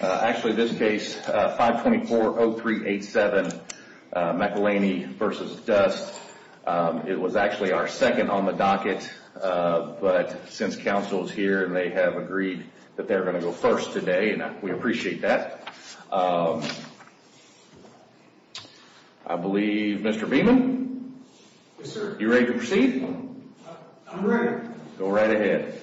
Actually this case 524-0387 McElhaney v. Dust It was actually our second on the docket But since counsel is here and they have agreed That they are going to go first today and we appreciate that I believe Mr. Beaman Yes sir Are you ready to proceed? I'm ready Go right ahead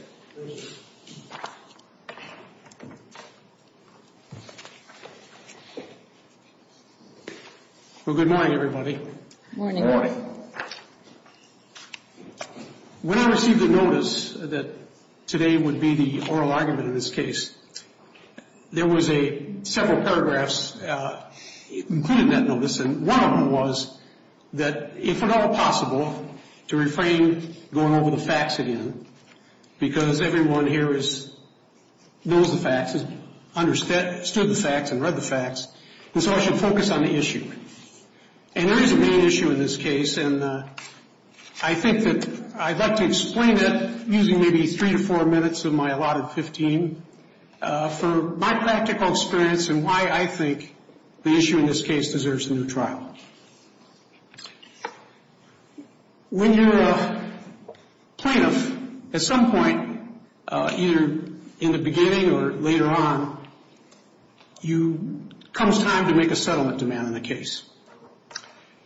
Well good morning everybody Good morning When I received the notice that today would be the oral argument of this case There was several paragraphs including that notice And one of them was that if at all possible To refrain from going over the facts again Because everyone here knows the facts Understood the facts and read the facts And so I should focus on the issue And there is a main issue in this case And I think that I'd like to explain it Using maybe 3 or 4 minutes of my allotted 15 For my practical experience and why I think The issue in this case deserves a new trial When you're a plaintiff At some point either in the beginning or later on Comes time to make a settlement demand in a case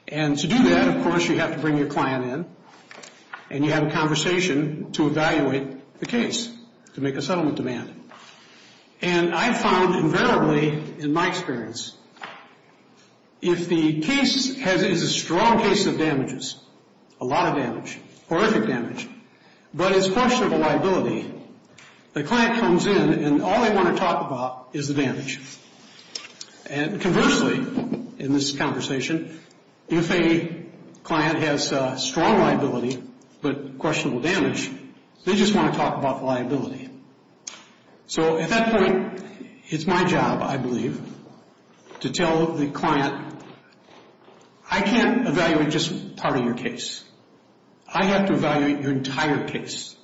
And to do that of course you have to bring your client in And you have a conversation to evaluate the case To make a settlement demand And I found invariably in my experience If the case is a strong case of damages A lot of damage, horrific damage But it's questionable liability The client comes in and all they want to talk about is the damage And conversely in this conversation If a client has strong liability but questionable damage They just want to talk about liability So at that point it's my job I believe To tell the client I can't evaluate just part of your case I have to evaluate your entire case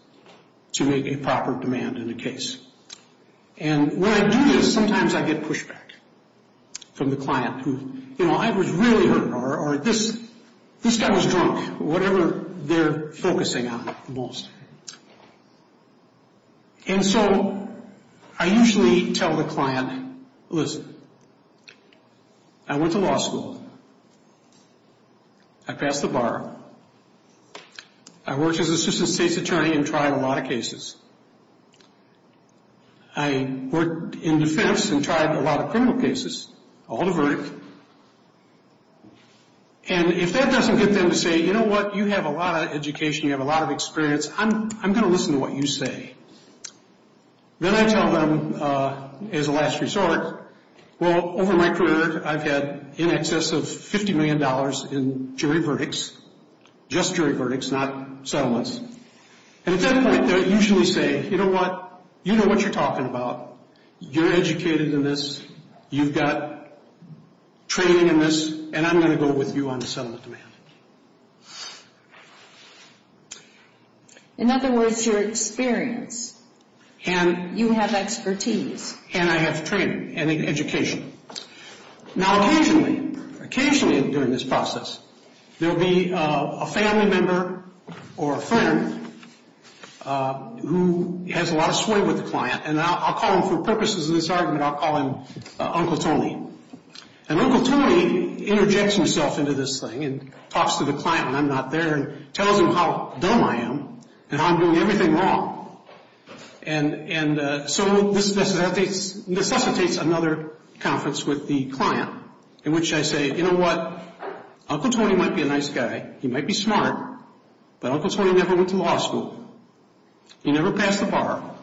To make a proper demand in the case And what I do is sometimes I get pushback From the client who, you know, I was really hurt Or this guy was drunk Or whatever they're focusing on most And so I usually tell the client Listen, I went to law school I passed the bar I worked as an assistant state's attorney And tried a lot of cases I worked in defense and tried a lot of criminal cases All the verdict And if that doesn't get them to say You know what, you have a lot of education You have a lot of experience I'm going to listen to what you say Then I tell them as a last resort Well, over my career I've had in excess of $50 million In jury verdicts Just jury verdicts, not settlements And at that point they're usually saying You know what, you know what you're talking about You're educated in this You've got training in this And I'm going to go with you on a settlement demand In other words, you're experienced And you have expertise And I have training and education Now occasionally, occasionally during this process There will be a family member or a friend Who has a lot of sway with the client And I'll call them for purposes of this argument I'll call them Uncle Tony And Uncle Tony interjects himself into this thing And talks to the client when I'm not there And tells them how dumb I am And how I'm doing everything wrong And so this necessitates another conference with the client In which I say, you know what Uncle Tony might be a nice guy He might be smart But Uncle Tony never went to law school He never passed the bar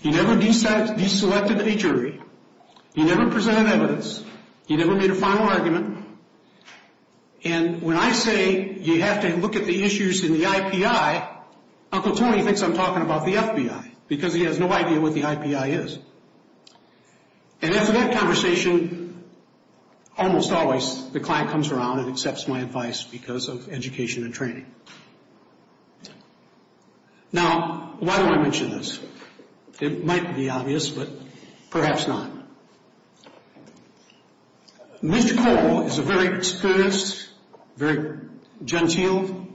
He never deselected a jury He never presented evidence He never made a final argument And when I say you have to look at the issues in the IPI Uncle Tony thinks I'm talking about the FBI Because he has no idea what the IPI is And in that conversation Almost always the client comes around And accepts my advice because of education and training Now, why do I mention this? It might be obvious, but perhaps not Mitch Cole is a very studious, very genteel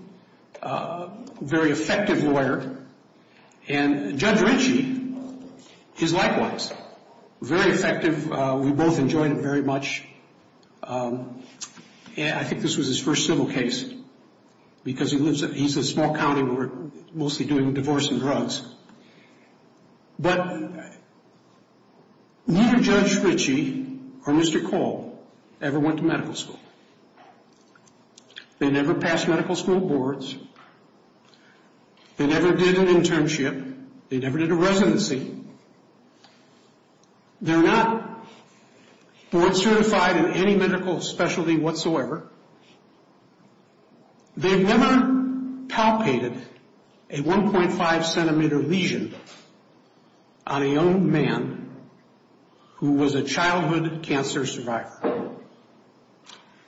Very effective lawyer And Judge Ritchie is likewise Very effective, we both enjoyed it very much And I think this was his first civil case Because he's a small county lawyer Mostly doing divorce and drugs But neither Judge Ritchie or Mr. Cole Ever went to medical school They never passed medical school boards They never did an internship They never did a residency They're not board certified in any medical specialty whatsoever They never palpated a 1.5 centimeter lesion On a young man who was a childhood cancer survivor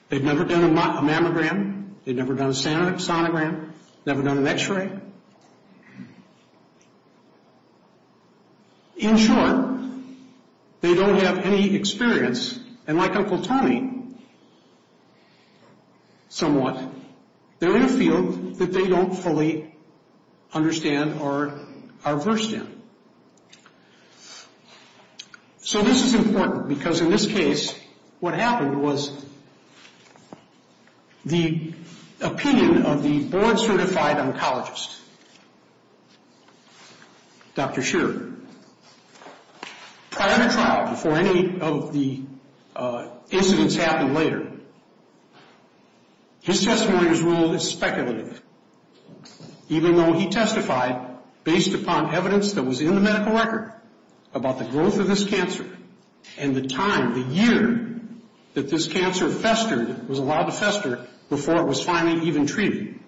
They've never done a mammogram They've never done a sonogram Never done an x-ray In short, they don't have any experience And like Uncle Tommy, somewhat They're in a field that they don't fully understand or are versed in So this is important, because in this case What happened was The opinion of the board certified oncologist Dr. Scherer Prior to trial, before any of the incidents happened later His testimony was ruled as speculative Even though he testified Based upon evidence that was in the medical record About the growth of this cancer And the time, the year That this cancer festered Was allowed to fester before it was finally even treated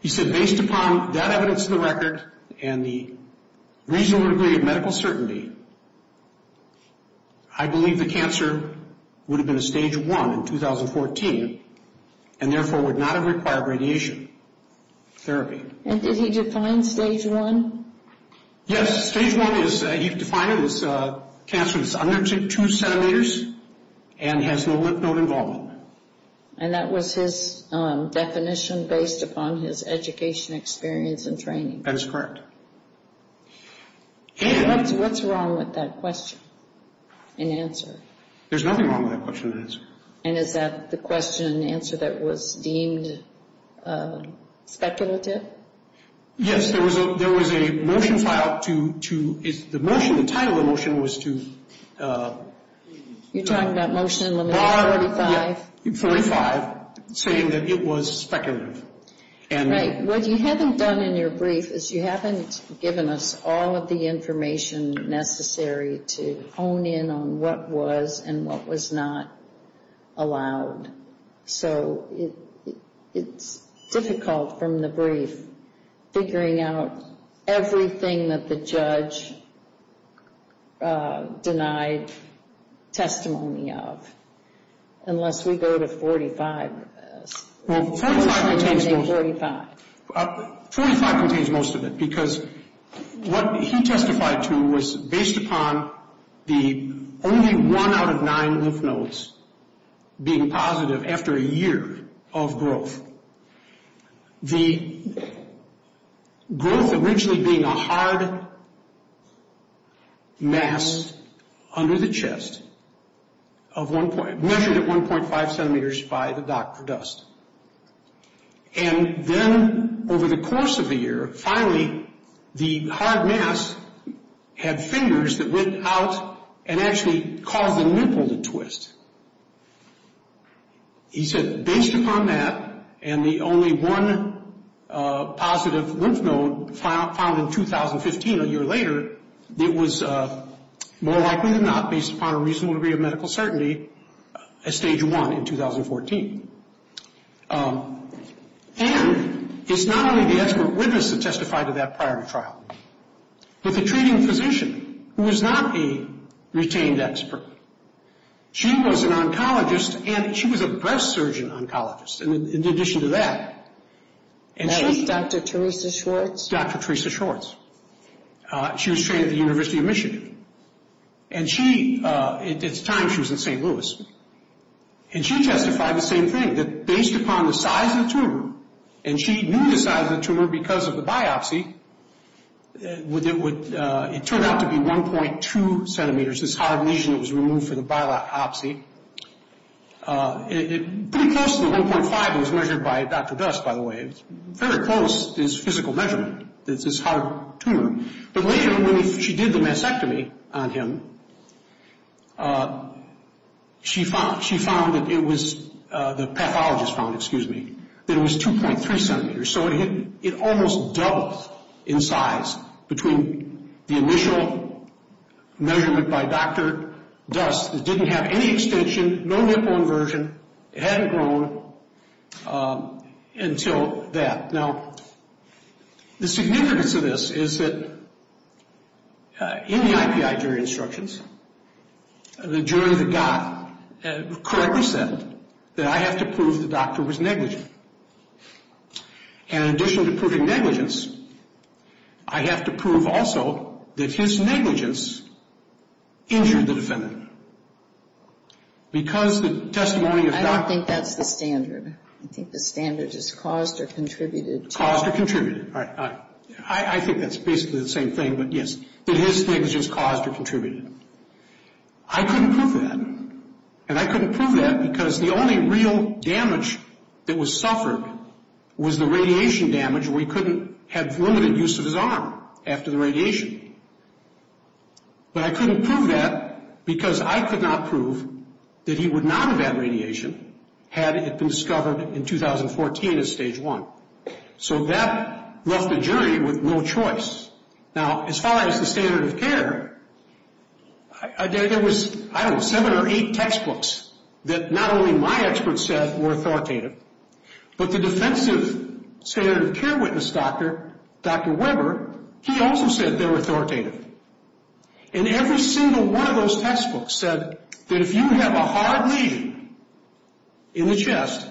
He said based upon that evidence in the record And the reasonable degree of medical certainty I believe the cancer would have been a stage 1 in 2014 And therefore would not have required radiation therapy And did he define stage 1? Yes, stage 1 was, he defined it as Cancer that's under 2 centimeters And has no lymph node involvement And that was his definition Based upon his education, experience, and training That is correct What's wrong with that question and answer? There's nothing wrong with that question and answer And is that the question and answer that was deemed speculative? Yes, there was a motion filed to The motion, the title of the motion was to You're talking about motion number 45? 45, saying that it was speculative Right, what you haven't done in your brief Is you haven't given us all of the information necessary To hone in on what was and what was not allowed So it's difficult from the brief Figuring out everything that the judge Denied testimony of Unless we go to 45 Well, 45 contains most of it Because what he testified to was Based upon the only 1 out of 9 lymph nodes Being positive after a year of growth The growth originally being a hard Mass under the chest Measured at 1.5 centimeters by the doctor And then over the course of the year Finally, the hard mass had fingers That went out and actually caused a nipple to twist He said based upon that And the only 1 positive lymph node Found in 2015, a year later He said it was more likely than not Based upon a reasonable degree of medical certainty At stage 1 in 2014 And it's not only the expert witness That testified to that prior trial But the treating physician Who was not the retained expert She was an oncologist And she was a breast surgeon oncologist In addition to that Dr. Theresa Schwartz She was trained at the University of Michigan And it's time she was in St. Louis And she testified the same thing That based upon the size of the tumor And she knew the size of the tumor Because of the biopsy It turned out to be 1.2 centimeters This hard region that was removed from the biopsy Pretty close to 1.5 It was measured by Dr. Dust by the way Very close is physical measurement It's this hard tumor But later when she did the mastectomy on him She found that it was The pathologist found, excuse me That it was 2.3 centimeters So it almost doubled in size Between the initial measurement by Dr. Dust It didn't have any extension No lymphomersion It hadn't grown Until that Now the significance of this is that In the IPI jury instructions The jury that got The court was then That I have to prove the doctor was negligent And in addition to proving negligence I have to prove also That his negligence Injured the defendant Because the testimony of I don't think that's the standard I think the standard is caused or contributed Caused or contributed I think that's basically the same thing But yes, that his negligence caused or contributed I couldn't prove that And I couldn't prove that because the only real damage That was suffered Was the radiation damage We couldn't have limited use of his arm After the radiation But I couldn't prove that Because I could not prove That he would not have had radiation Had it been discovered in 2014 as stage one So that left the jury with no choice Now as far as the standard of care There was, I don't know, seven or eight textbooks That not only my experts said were authoritative But the defensive standard of care witness doctor Dr. Weber He also said they were authoritative And every single one of those textbooks said That if you have a hard region In the chest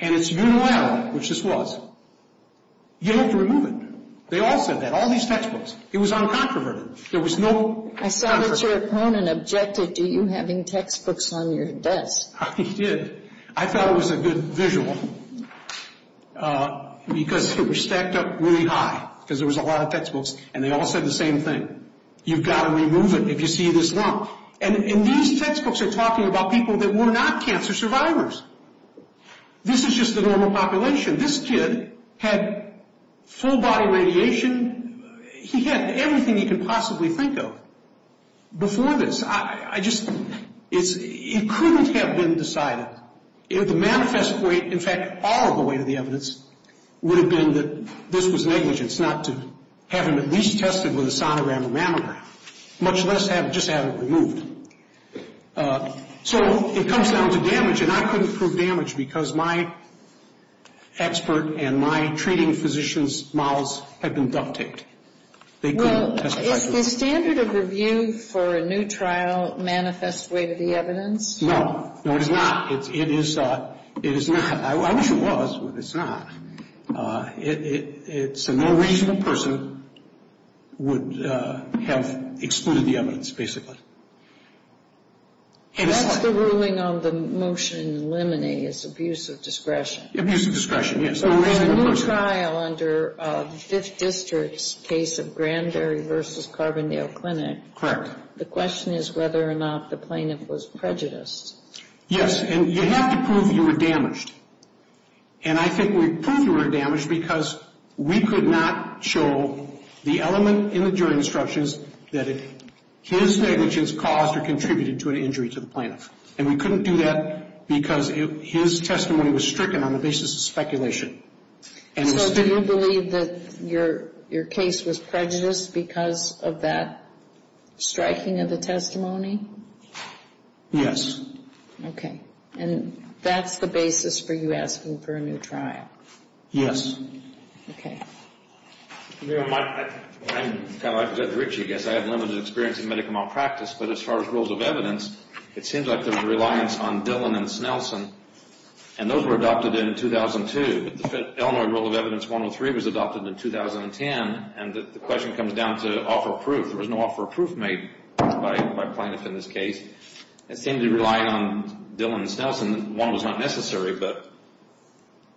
And it's unilateral Which this was You have to remove it They all said that, all these textbooks It was uncompromising I thought that your opponent objected To you having textbooks on your desk I did I thought it was a good visual Because it was stacked up really high Because there was a lot of textbooks And they all said the same thing You've got to remove it if you see this one And these textbooks are talking about people That were not cancer survivors This is just the normal population This kid had full body radiation He had everything he could possibly think of Before this I just It couldn't have been decided If the manifest way In fact, all of the way to the evidence Would have been that this was negligence Not to have him at least tested With a sonogram and mammogram Much less just have it removed So it comes down to damage And I couldn't prove damage because my Expert and my treating physician's models Had been duct taped Well, is the standard of review For a new trial manifest way to the evidence? No, no it is not It is not I wish it was, but it's not It's that no reasonable person Would have excluded the evidence, basically That's the ruling on the motion in Lemony Is abuse of discretion Abuse of discretion, yes So in your trial under This district's case Of Grand Dairy vs. Carbondale Clinic The question is whether or not The plaintiff was prejudiced Yes, and you have to prove you were damaged And I think we proved you were damaged Because we could not show The element in the jury instructions That his damage is caused or contributed To an injury to the plaintiff And we couldn't do that because His testimony was stricken On the basis of speculation So do you believe that your case was prejudiced Because of that striking of the testimony? Yes Okay, and that's the basis for you asking for a new trial? Yes Okay Well, I'm a bit rich, I guess I have limited experience in medical malpractice But as far as rules of evidence It seems like there was a reliance on Dillon and Snelson And those were adopted in 2002 The Illinois Rule of Evidence 103 Was adopted in 2010 And the question comes down to offer of proof There was no offer of proof made By the plaintiff in this case It seemed to rely on Dillon and Snelson One was not necessary, but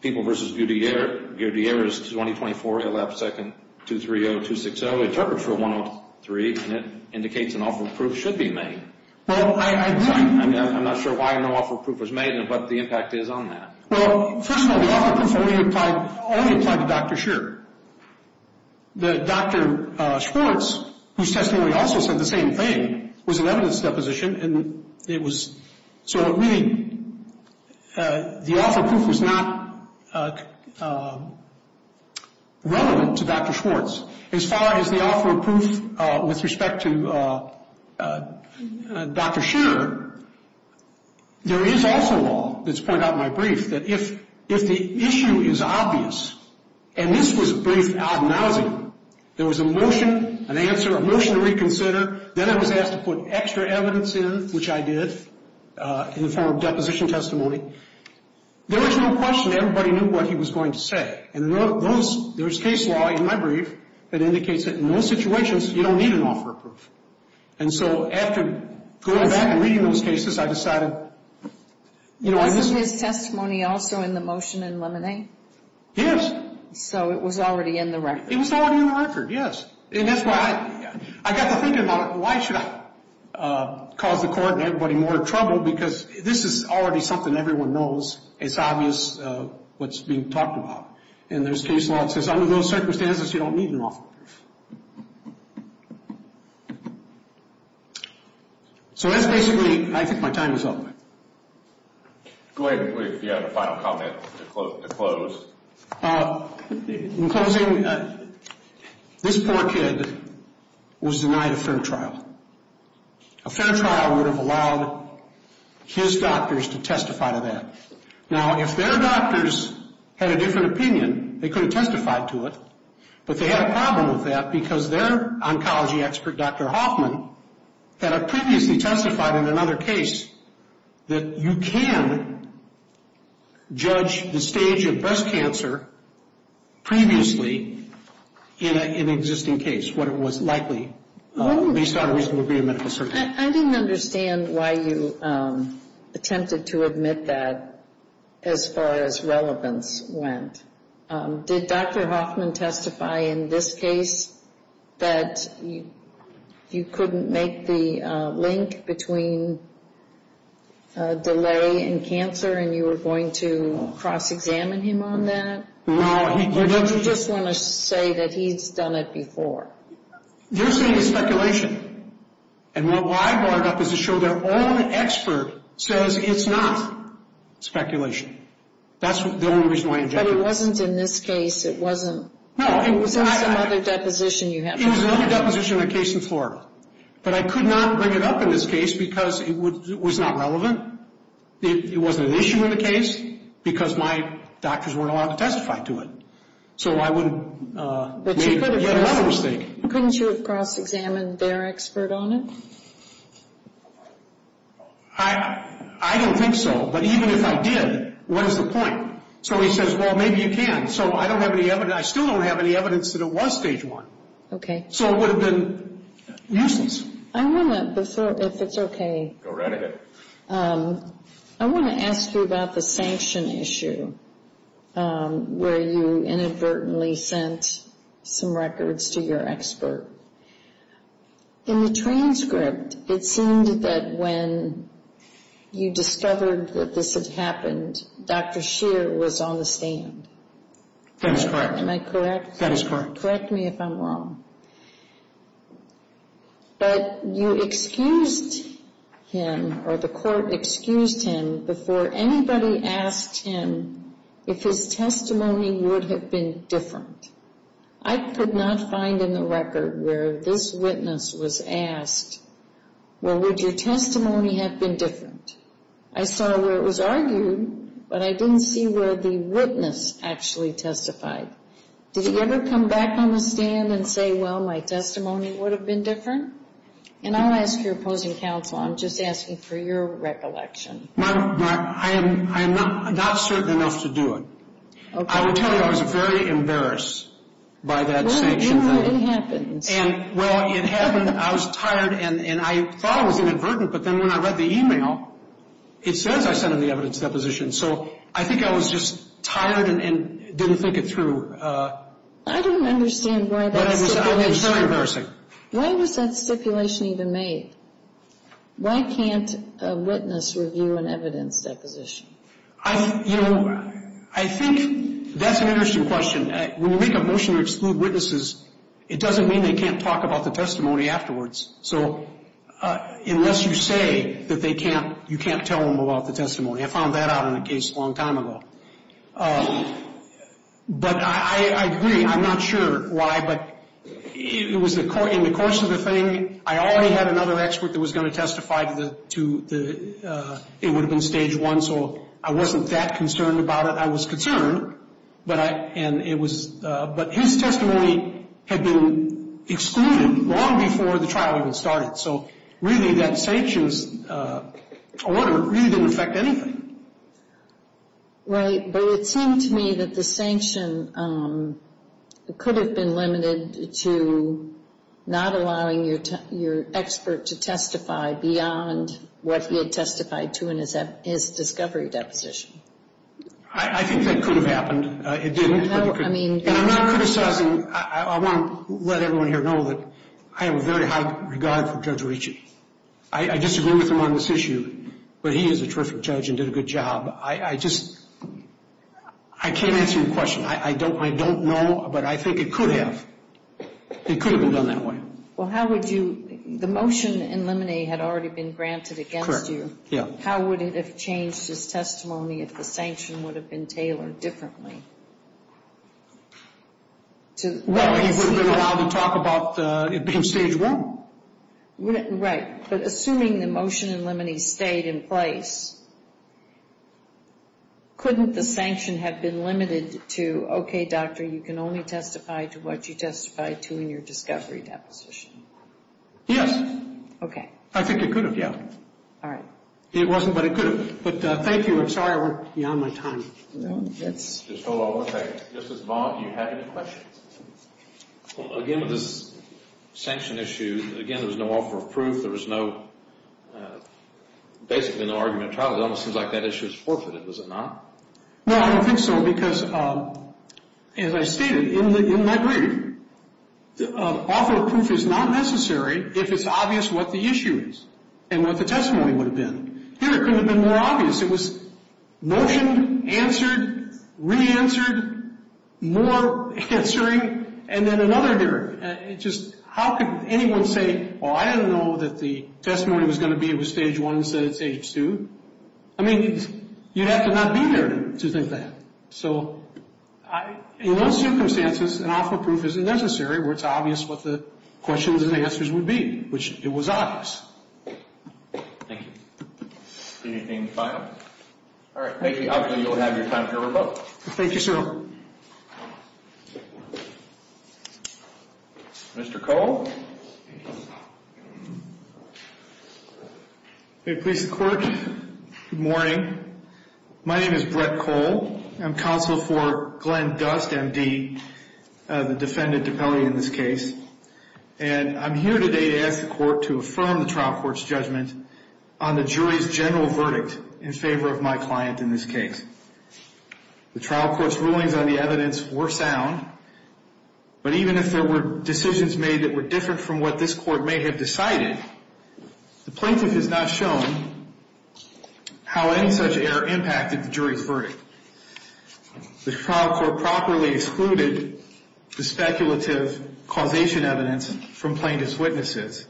People vs. Gurdier Gurdier is 20-24-11-2-2-3-0-2-6-0 Interpreted for 103 And it indicates an offer of proof Should be made I'm not sure why no offer of proof was made And what the impact is on that Well, first of all, the offer of proof Only applied to Dr. Scheer The Dr. Schwartz Whose testimony also said the same thing Was an evidence deposition And it was So really The offer of proof was not Relevant to Dr. Schwartz As far as the offer of proof With respect to Dr. Scheer There is also A law that's put out in my brief That if the issue is obvious And this was a brief Acknowledgment There was a motion, an answer, a motion to reconsider Then it was asked to put extra evidence in Which I did In the form of deposition testimony There was no question Everybody knew what he was going to say And there was case law in my brief That indicates that in those situations You don't need an offer of proof And so after going back And reading those cases, I decided You know, I just Was his testimony also in the motion in Lemonade? Yes So it was already in the record It was already in the record, yes And that's why I got to thinking about Why should I cause the court and everybody more trouble Because this is already something Everyone knows It's obvious what's being talked about And there's case law That says under those circumstances you don't need an offer So that's basically I think my time is up Go ahead and put your final comment To close In closing This poor kid Was denied a fair trial A fair trial would have allowed His doctors To testify to that Now if their doctors Had a different opinion They could have testified to it But they had a problem with that Because their oncology expert Dr. Hoffman Had previously testified in another case That you can Judge the stage of breast cancer Previously In an existing case What it was likely Based on a reasonable agreement I didn't understand Why you Attempted to admit that As far as relevance went Did Dr. Hoffman Testify in this case That You couldn't make the Link between Delay and cancer And you were going to Cross-examine him on that Or did you just want to say That he's done it before You're saying it's speculation And what I brought up Is to show their own expert Says it's not Speculation But it wasn't in this case It wasn't It was another deposition In a case in Florida But I could not bring it up in this case Because it was not relevant It wasn't an issue in the case Because my doctors weren't allowed To testify to it So I wouldn't Make that mistake Couldn't you have cross-examined their expert on it? I don't think so But even if I did What is the point? So he says well maybe you can I still don't have any evidence that it was stage one So it would have been useless I want to If it's okay I want to ask you About the sanction issue Where you inadvertently Sent some records To your expert In the transcript It seemed that when You discovered That this had happened Dr. Scheer was on the stand Am I correct? Correct me if I'm wrong But you excused him Or the court Excused him before anybody And you asked him If his testimony would have been Different I could not find in the record Where this witness was asked Well would your testimony Have been different I saw where it was argued But I didn't see where the witness Actually testified Did he ever come back on the stand And say well my testimony would have been different? And I'll ask your opposing counsel I'm just asking for your recollection I'm not I'm not certain enough to do it I will tell you I was very embarrassed By that sanction When did it happen? Well it happened I was tired and I thought it was inadvertent But then when I read the email It said I sent the evidence deposition So I think I was just tired And didn't think it through I don't understand Why was that stipulation even made? Why can't A witness review an evidence Deposition? I think That's an interesting question When you make a motion to exclude witnesses It doesn't mean they can't talk about the testimony afterwards So Unless you say that they can't You can't tell them about the testimony I found that out in a case a long time ago But I agree I'm not sure Why but In the course of the thing I already had another expert That was going to testify It would have been stage one So I wasn't that concerned about it I was concerned But his testimony Had been excluded Long before the trial even started So really that sanctions Order really didn't affect anything Right But it seems to me That the sanction Could have been limited to Not allowing your Expert to testify beyond What he had testified to In his discovery deposition I think that could have happened It didn't And I'm not criticizing I won't let everyone here know I have a very high regard for I disagree with him on this issue But he is a terrific judge And did a good job I can't answer your question I don't know But I think it could have It could have been done that way Well how would you The motion in limine had already been granted How would it have changed His testimony if the sanction Would have been tailored differently Well He wouldn't have been allowed to talk About it being stage one Right But assuming the motion in limine Stayed in place Couldn't the sanction Have been limited to Okay doctor you can only testify To what you testified to in your discovery deposition Yes Okay I think it could have It wasn't but it could have But thank you I'm sorry I went beyond my time Just hold on one second This is Vaughn you had your question Well again with the sanction issue Again there was no offer of proof There was no Basically no argument of trial It almost seems like that issue is forfeited Is it not Well I don't think so because As I stated in my brief Offer of proof is not necessary If it's obvious what the issue is And what the testimony would have been Here it could have been more obvious It was motion answered Re-answered More answering And then another hearing How could anyone say Well I didn't know that the testimony Was going to be of a stage one Instead of stage two I mean you'd have to not be there To think that So in those circumstances An offer of proof isn't necessary Where it's obvious what the question And answers would be Which it was obvious Thank you All right thank you I'll let you go ahead of your time Thank you sir Mr. Cole Good morning My name is Brett Cole I'm counsel for Glenn Dust M.D. The defendant in this case And I'm here today To ask the court to affirm The trial court's judgment On the jury's general verdict In favor of my client in this case The trial court's rulings On the evidence were sound But even if there were Decisions made that were different From what this court may have decided The plaintiff has not shown How any such error Impacted the jury's verdict The trial court Properly excluded The speculative causation evidence From plaintiff's witnesses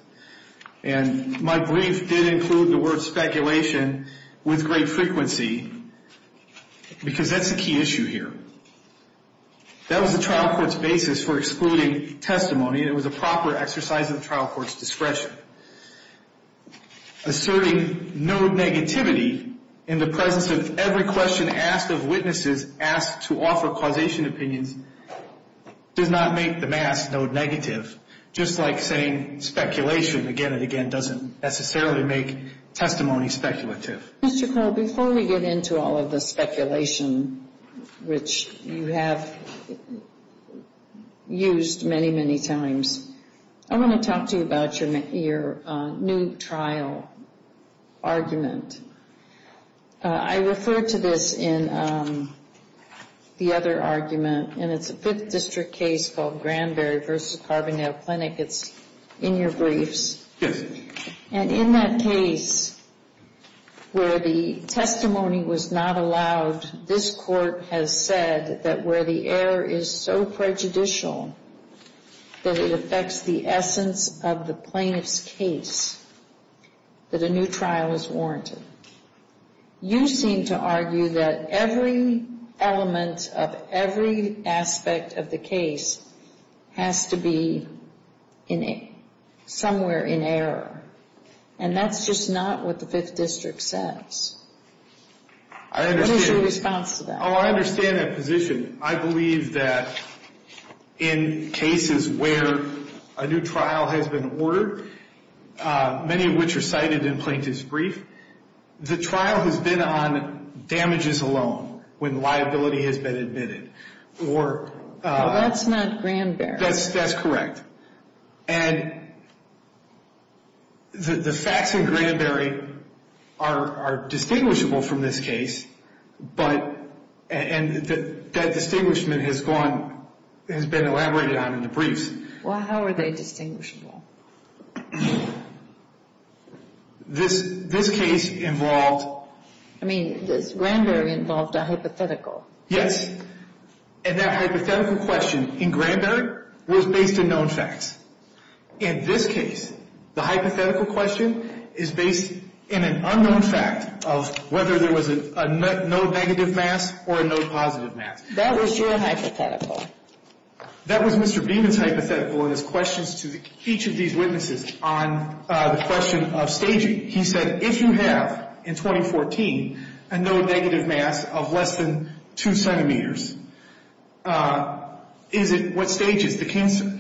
And my brief Did include the word speculation With great frequency Because that's the key issue here That was the trial court's Basis for excluding testimony It was a proper exercise Of the trial court's discretion Asserting no negativity In the presence of Every question asked of witnesses Asked to offer causation opinions Did not make the mask No negative Just like saying speculation Again and again doesn't necessarily make Testimony speculative Mr. Cole, before we get into all of the speculation Which you have Used Many, many times I want to talk to you about Your new trial Argument I refer to this In The other argument And it's a Fifth District case Called Granberry v. Carbonell Clinic It's in your briefs And in that case Where the testimony Was not allowed This court has said That where the error Is so prejudicial That it affects the essence Of the plaintiff's case That a new trial Is warranted You seem to argue that Every element of Every aspect of the case Has to be Somewhere In error And that's just not what the Fifth District says What is your response to that? I understand that position I believe that In cases where A new trial has been ordered Many of which are Cited in plaintiff's brief The trial has been on Damages alone When liability has been admitted That's not Granberry That's correct And The facts in Granberry Are distinguishable From this case And that Distinguishment has been Elaborated on in the briefs How are they distinguishable? This case Involved Granberry involved a hypothetical Yes And that hypothetical question in Granberry Was based in known facts In this case The hypothetical question Is based in an unknown fact Of whether there was No negative mass or No positive mass That was your hypothetical That was Mr. Beeman's hypothetical In his questions to each of these witnesses On the question of staging He said if you have In 2014 A no negative mass of less than Two centimeters Is it What stage is the cancer?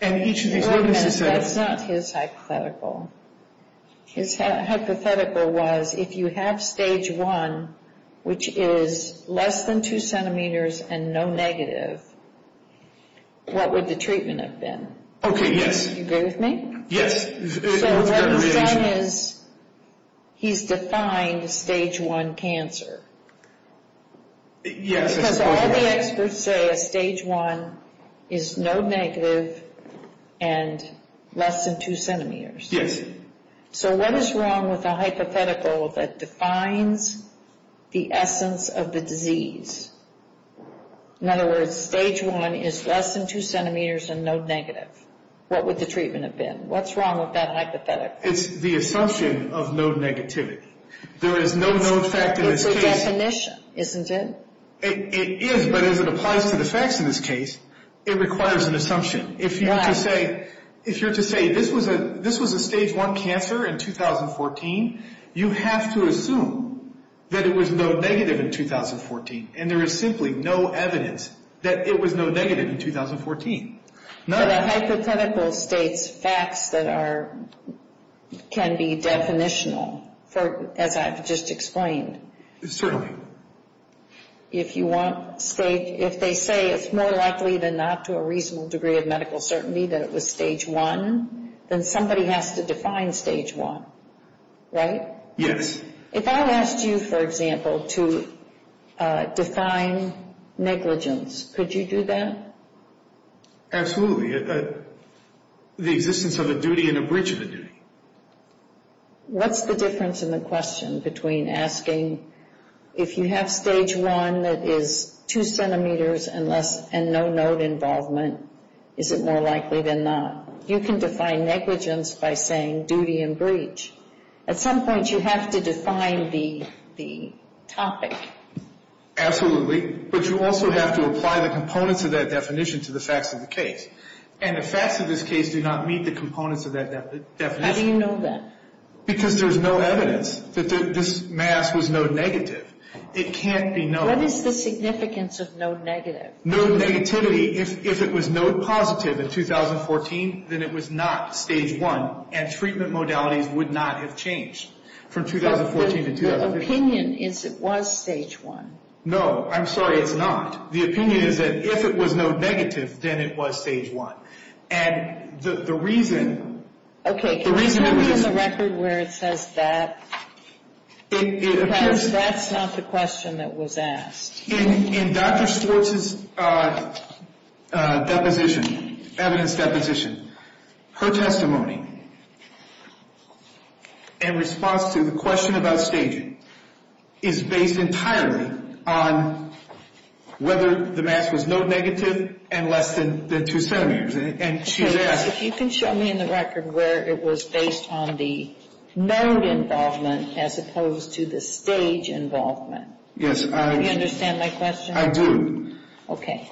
And each of these witnesses That's not his hypothetical His hypothetical was If you have stage one Which is less than Two centimeters and no negative What would the treatment Have been? Do you agree with me? Yes He's defined Stage one cancer Yes But all the experts say Stage one is no negative And Less than two centimeters Yes So what is wrong with a hypothetical That defines the essence Of the disease? In other words Stage one is less than two centimeters And no negative What would the treatment have been? What's wrong with that hypothetical? It's the assumption of no negativity There is no no effect It's a definition, isn't it? It is, but as it applies To the facts in this case It requires an assumption If you're to say This was a stage one cancer in 2014 You have to assume That it was no negative in 2014 And there is simply No evidence that it was no negative In 2014 But a hypothetical states facts That are Can be definitional As I've just explained Certainly If you want If they say it's more likely than not To a reasonable degree of medical certainty That it was stage one Then somebody has to define stage one Right? Yes If I asked you, for example, to Define negligence Could you do that? Absolutely The existence of a duty And a breach of a duty What's the difference in the question Between asking If you have stage one That is two centimeters And no node involvement Is it more likely than not? You can define negligence By saying duty and breach At some point you have to define The topic Absolutely But you also have to apply the components Of that definition to the facts of the case And the facts of this case do not Meet the components of that definition How do you know that? Because there is no evidence That this mask is no negative It can't be no What is the significance of no negative? No negativity If it was no positive in 2014 Then it was not stage one And treatment modality would not have changed From 2014 The opinion is it was stage one No, I'm sorry, it's not The opinion is that if it was no negative Then it was stage one And the reason Okay, can we have a record Where it says that Because that's not the question That was asked In Dr. Schwartz's Deposition Evidence deposition Her testimony In response to The question about staging Her testimony Is based entirely On whether the mask Was no negative And less than two centimeters If you can show me in the record Where it was based on the Node involvement As opposed to the stage involvement Do you understand my question? I do Okay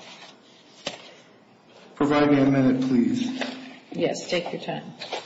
Provide me a minute, please Yes, take your time Okay Okay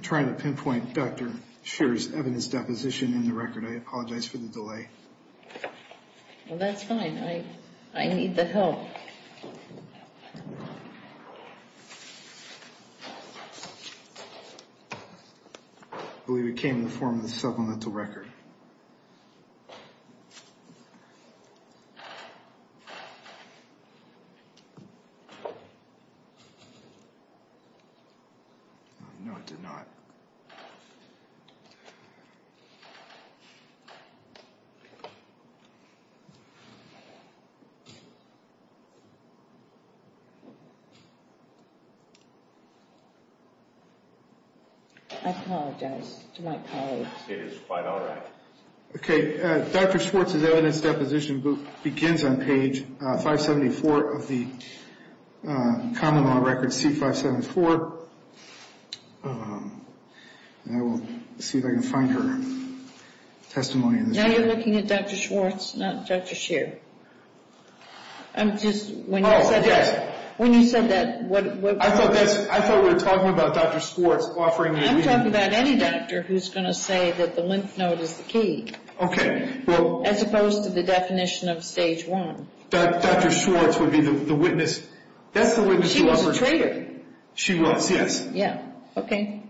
I try to pinpoint Dr. Schwartz's Deposition In the record I apologize For the delay Oh, that's fine I see I need the help I believe it came in the form of a supplemental record No, it did not I apologize to my colleagues It is fine, all right Okay, Dr. Schwartz's evidence deposition begins on page 574 of the Common Law Record C-574 Now we'll see if I can find her testimony in this Now you're looking at Dr. Schwartz, not Dr. Shear Okay, thank you I'm just When you said that I thought we were talking about Dr. Schwartz offering I'm talking about any doctor who's going to say that the lymph node is the key Okay, well As opposed to the definition of stage one Dr. Schwartz would be the witness That's the witness She was, yes Okay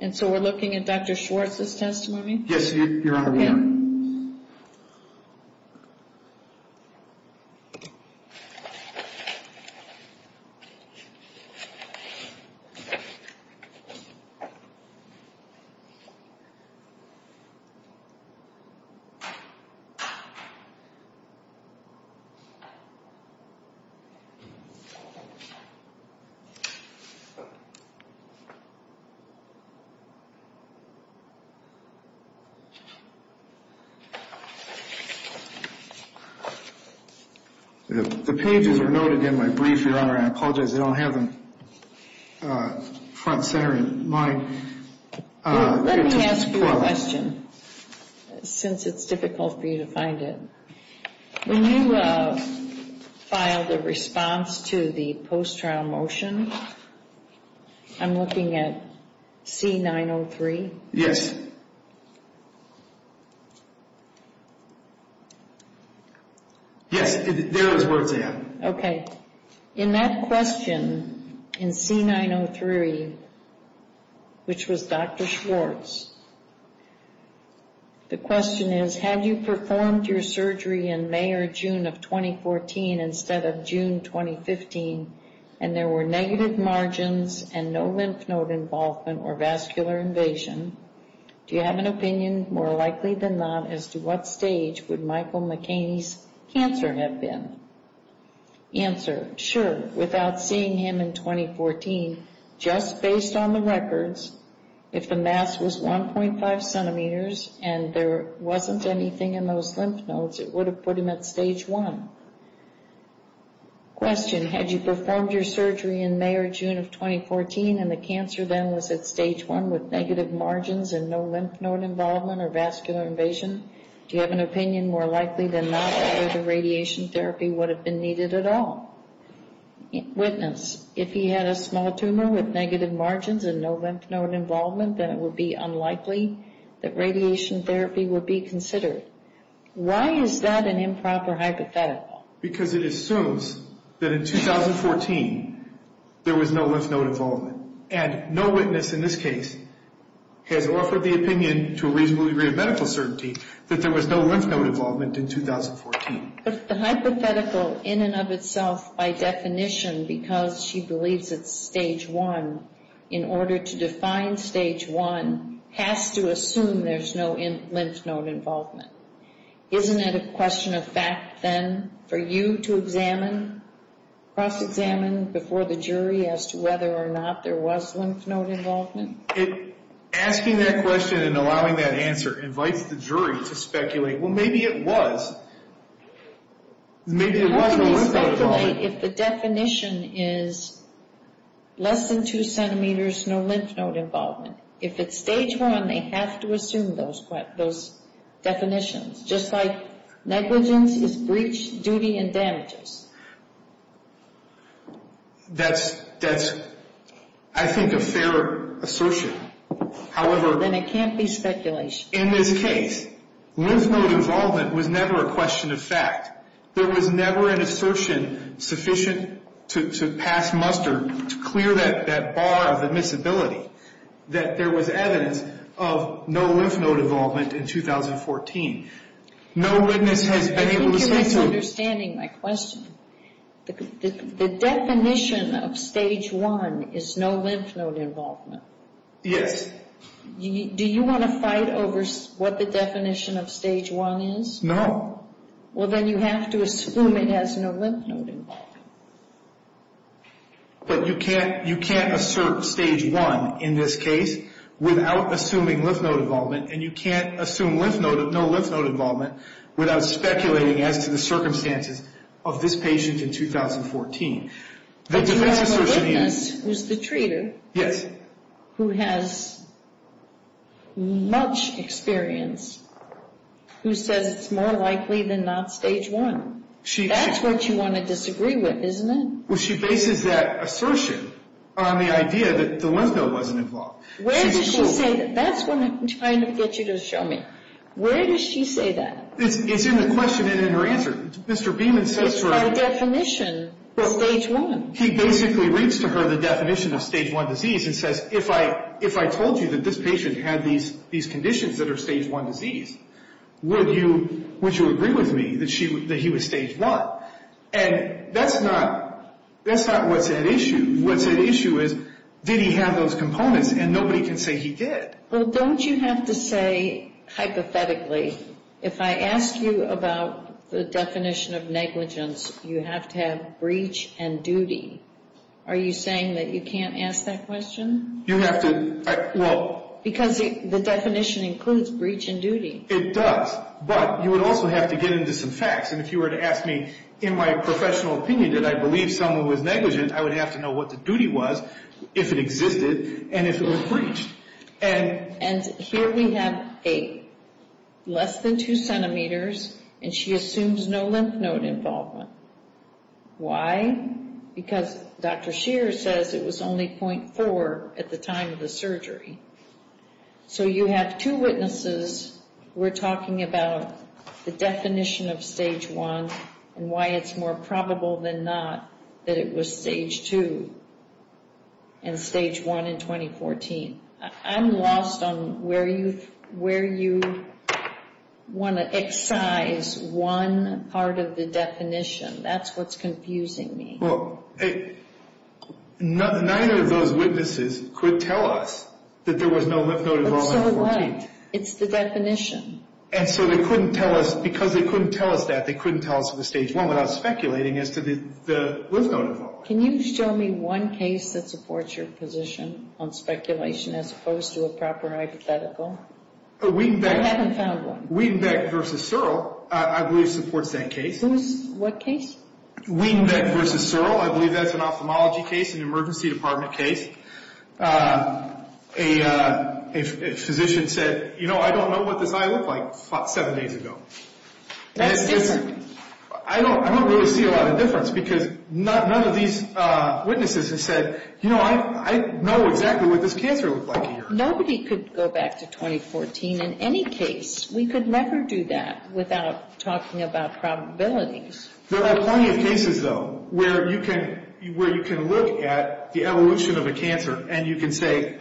And so we're looking at Dr. Schwartz's testimony Yes, you're on the line Okay The pages are noted in my brief, Your Honor I apologize, they don't have them front and center Let me ask you a question Since it's difficult for you to find it When you filed a response to the post-trial motion I'm looking at C-903 Yes Yes, there is where it's at Okay In that question in C-903 which was Dr. Schwartz The question is Had you performed your surgery in May or June of 2014 instead of June 2015 and there were negative margins and no lymph node involvement or vascular invasion Do you have an opinion more likely than not as to what stage would Michael McHaney's cancer have been Answer, sure Without seeing him in 2014 just based on the records if the mass was 1.5 centimeters and there wasn't anything in those lymph nodes it would have put him at stage 1 Question Had you performed your surgery in May or June of 2014 and the cancer then was at stage 1 with negative margins and no lymph node involvement or vascular invasion Do you have an opinion more likely than not whether radiation therapy would have been needed at all Witness, if he had a small tumor with negative margins and no lymph node involvement then it would be unlikely that radiation therapy would be considered Why is that an improper hypothetical Because it assumes that in 2014 there was no lymph node involvement and no witness in this case had offered the opinion to a reasonable degree of medical certainty that there was no lymph node involvement in 2014 But the hypothetical in and of itself by definition because she believes it's stage 1 in order to define stage 1 has to assume there's no lymph node involvement Isn't it a question of facts then for you to examine cross examine before the jury as to whether or not there was lymph node involvement Asking that question and allowing that answer invites the jury to speculate well maybe it was Maybe it was If the definition is less than 2 cm no lymph node involvement if it's stage 1 they have to assume those definitions just like negligence is breach of duty and damages That's I think a fair assertion However In this case lymph node involvement was never a question of fact. There was never an assertion sufficient to pass muster to clear that bar of admissibility that there was evidence of no lymph node involvement in 2014 No witness had Thank you for understanding my question The definition of stage 1 is no lymph node involvement Yes Do you want to fight over what the definition of stage 1 is? No Well then you have to assume it has no lymph node involvement But you can't assert stage 1 in this case without assuming lymph node involvement and you can't assume no lymph node involvement without speculating as to the circumstances of this patient in 2014 The witness was the treater who has much experience who says it's more likely than not stage 1 That's what you want to disagree with isn't it? She bases that assertion on the idea that the lymph node doesn't involve Where does she say that? That's what I'm trying to get you to show me Where does she say that? It's in the question and in her answer It's in her definition for stage 1 He basically reads to her the definition of stage 1 disease and says if I told you that this patient had these conditions that are stage 1 disease would you agree with me that he was stage 1? And that's not what's at issue What's at issue is did he have those components and nobody can say he did Don't you have to say hypothetically if I ask you about the definition of negligence you have to have breach and duty Are you saying that you can't ask that question? Because the definition includes breach and duty It does, but you would also have to get into some facts and if you were to ask me in my professional opinion that I believe someone was negligent I would have to know what the duty was if it existed and if it was breached And here we have 8 less than 2 centimeters and she assumes no lymph node involvement Why? Because Dr. Scheer says it was only .4 at the time of the surgery So you have 2 witnesses who are talking about the definition of stage 1 and why it's more probable than not that it was stage 2 and stage 1 in 2014 I'm lost on where you want to excise one part of the definition That's what's confusing me Neither of those witnesses could tell us that there was no lymph node involvement It's the definition Because they couldn't tell us that they couldn't tell us it was stage 1 without speculating that there was no lymph node involvement Can you show me one case that supports your position on speculation as opposed to a proper hypothetical Weenbeck versus Searle I believe supports that case What case? Weenbeck versus Searle I believe that's an ophthalmology case an emergency department case A physician said I don't know what this guy looked like 7 days ago That's different I don't really see a lot of difference because none of these witnesses have said I know exactly what this cancer looked like Nobody could go back to 2014 in any case We could never do that without talking about probabilities There are plenty of cases though where you can look at the evolution of a cancer and you can say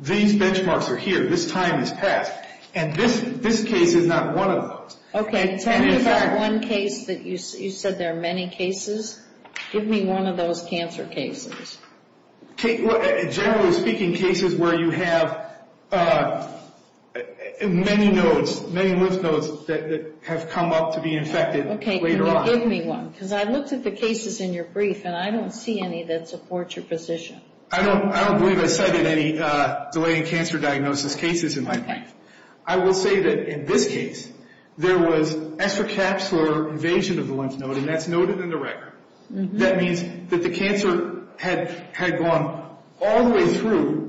These benchmarks are here This time has passed and this case is not one of those Can you tell me about one case that you said there are many cases Give me one of those cancer cases Generally speaking cases where you have many nodes many lymph nodes that have come up to be infected later on I looked at the cases in your brief and I don't see any that support your position I don't believe I cited any delaying cancer diagnosis cases in my case I will say that in this case there was extra caps for invasion of the lymph node and that's noted in the record That means that the cancer had gone all the way through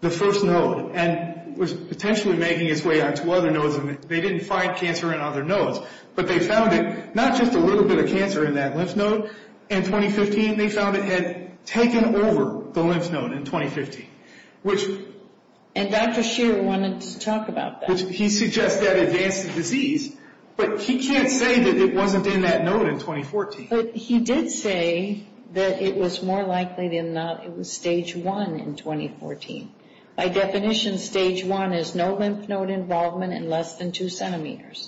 the first node and was potentially making its way They didn't find cancer in other nodes but they found it not just a little bit of cancer in that lymph node In 2015 they found it had taken over the lymph node in 2015 And Dr. Shear wanted to talk about that He suggests that it advances disease but he can't say that it wasn't in that node in 2014 But he did say that it was more likely than not that it was stage 1 in 2014 By definition, stage 1 is no lymph node involvement in less than 2 centimeters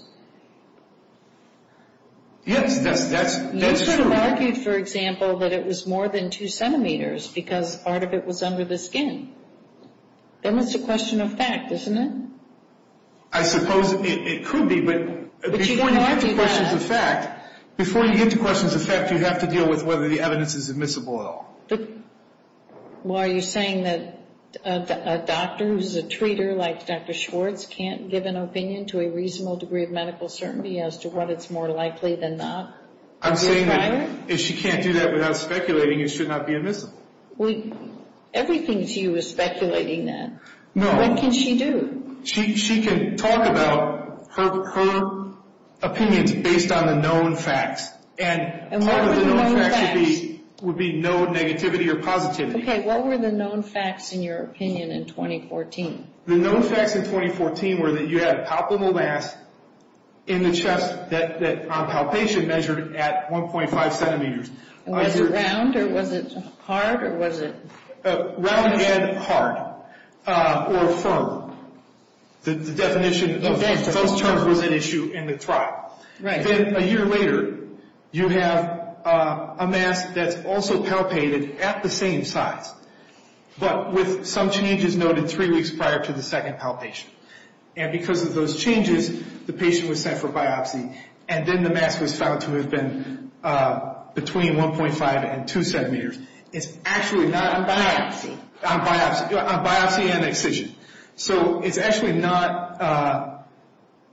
Yes, that's true But you argued for example that it was more than 2 centimeters because part of it was under the skin Then it's a question of fact, isn't it? I suppose it could be But you didn't argue that Before you get to questions of fact you have to deal with whether the evidence is admissible at all Are you saying that a doctor who's a treater like Dr. Schwartz can't give an opinion to a reasonable degree of medical certainty as to what it's more likely than not? I'm saying that if she can't do that without speculating it should not be admissible Everything to you is speculating that No What can she do? She can talk about her opinions based on the known facts And part of the known facts would be known negativity or positivity Okay, what were the known facts in your opinion in 2014? The known facts in 2014 were that you had a top of the last in the chest that on palpation measured at 1.5 centimeters Was it round? Was it hard? Round and hard or firm The definition of both terms was an issue in the trial Then a year later you have a mass that's also palpated at the same size but with some changes noted three weeks prior to the second palpation And because of those changes the patient was sent for biopsy and then the mass was found to have been between 1.5 and 2 centimeters It's actually not a biopsy A biopsy and excision So it's actually not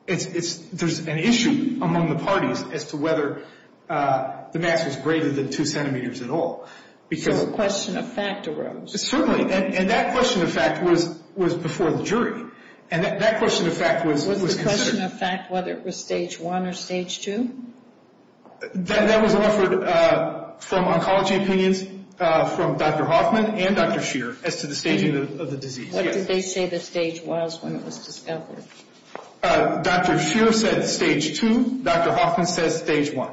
There's an issue among the parties as to whether the mass is greater than 2 centimeters at all So a question of fact arose Certainly, and that question of fact was before the jury And that question of fact was Was the question of fact whether it was stage 1 or stage 2? That was referred from oncology opinions from Dr. Hoffman and Dr. Scheer as to the staging of the disease What did they say the stage was when it was discovered? Dr. Scheer said stage 2. Dr. Hoffman said stage 1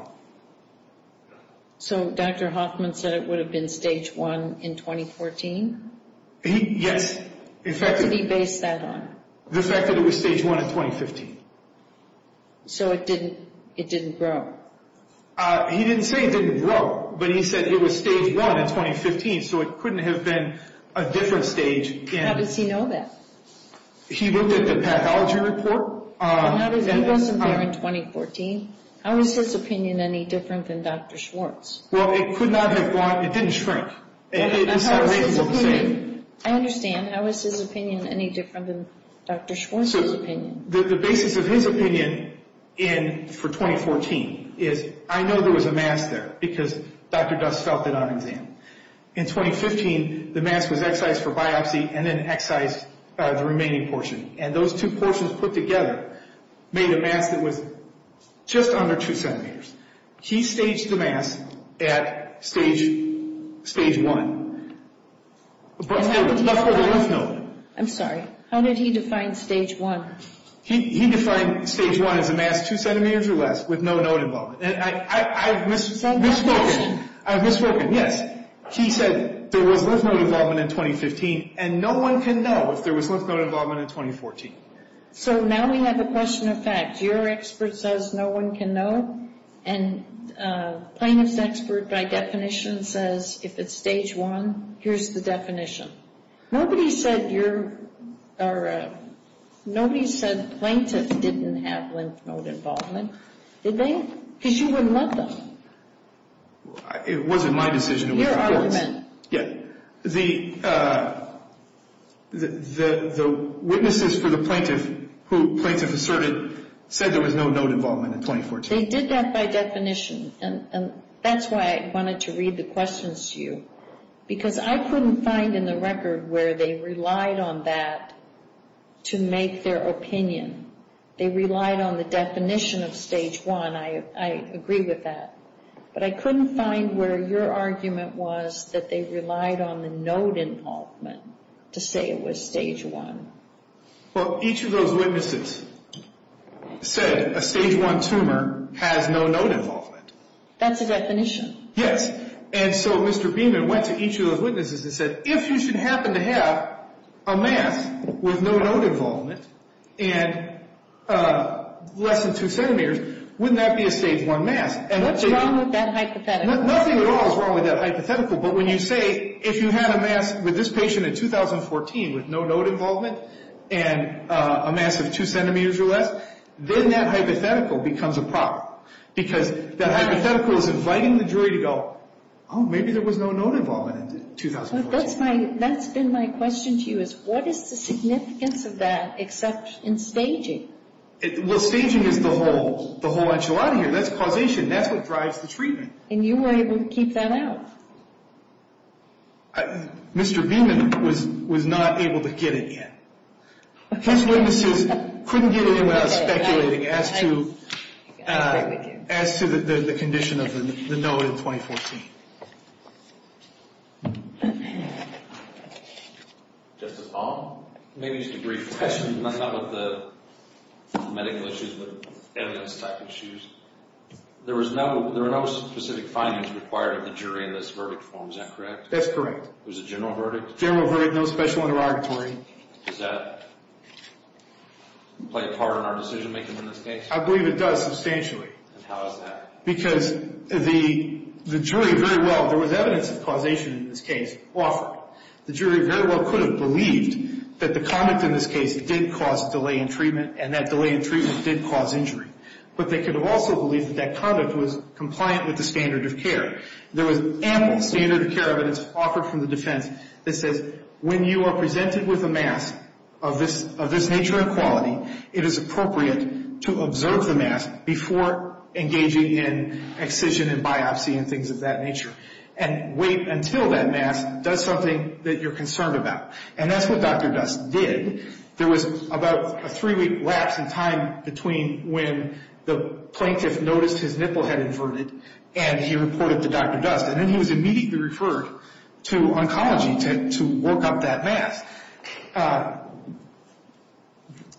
So Dr. Hoffman said it would have been stage 1 in 2014? Yes He based that on The fact that it was stage 1 in 2015 So it didn't it didn't grow He didn't say it didn't grow but he said it was stage 1 in 2015 so it couldn't have been a different stage How does he know that? He looked at the pathology report He doesn't know in 2014 How is his opinion any different than Dr. Schwartz? Well, it could not have gone It didn't shrink I understand How is his opinion any different than Dr. Schwartz's opinion? The basis of his opinion for 2014 is I know there was a mask there because Dr. Dust felt it on his hand In 2015, the mask was excised for biopsy and then excised by the remaining portion and those two portions put together made a mask that was just under 2 centimeters He staged the mask at stage 1 I'm sorry, how did he define stage 1? He defined stage 1 as a mask 2 centimeters or less with no node involvement I'm misrepresenting Yes, he said there was no development in 2015 and no one can know if there was no development in 2014 So now we have the question of facts Your expert says no one can know and plaintiff's expert by definition says if it's stage 1 here's the definition Nobody said plaintiff didn't have lymph node involvement Did they? Because you wouldn't let them It wasn't my decision The witnesses for the plaintiff who plaintiff asserted says there was no node involvement in 2014 They did that by definition and that's why I wanted to read the questions to you because I couldn't find in the record where they relied on that to make their opinion They relied on the definition of stage 1, I agree with that But I couldn't find where your argument was that they relied on the node involvement to say it was stage 1 Well, each of those witnesses said a stage 1 tumor has no node involvement That's the definition Yes, and so Mr. Beeman went to each of those witnesses and said if you should happen to have a mass with no node involvement and less than 2 centimeters wouldn't that be a stage 1 mass? What's wrong with that hypothetical? Nothing at all is wrong with that hypothetical but when you say if you had a mass with this patient in 2014 with no node involvement and a mass of 2 centimeters or less, then that hypothetical becomes a product because that hypothetical is inviting the jury to go, oh, maybe there was no node involvement in 2014 That's been my question to you is what is the significance of that except in staging? Well, staging is the whole enchilada here, that's causation, that's what drives the treatment. And you were able to keep that out Mr. Beeman was not able to get it yet He couldn't get it in without speculating as to the condition of the node in 2014 Just a follow-up? Maybe just a brief question on some of the medical issues with evidence-backed issues There are no specific findings required of the jury in this verdict form, is that correct? That's correct. Was it a general verdict? General verdict, no special interrogatory. Does that play a part in our decision-making in this case? I believe it does substantially. How is that? Because the jury very well, there was evidence of causation in this case. The jury very well could have believed that the conduct in this case did cause delay in treatment and that delay in treatment did cause injury. But they could have also believed that conduct was compliant with the standard of care. There was no standard of care evidence offered from the defense that said, when you are presented with a mask of this nature and quality, it is appropriate to observe the mask before engaging in excision and biopsy and things of that nature and wait until that mask does something that you're concerned about. And that's what Dr. Best did There was about a three week lapse in time between when the plaintiff noticed his nipple had inverted and he reported to Dr. Best. And then he was immediately referred to oncology to work out that mask.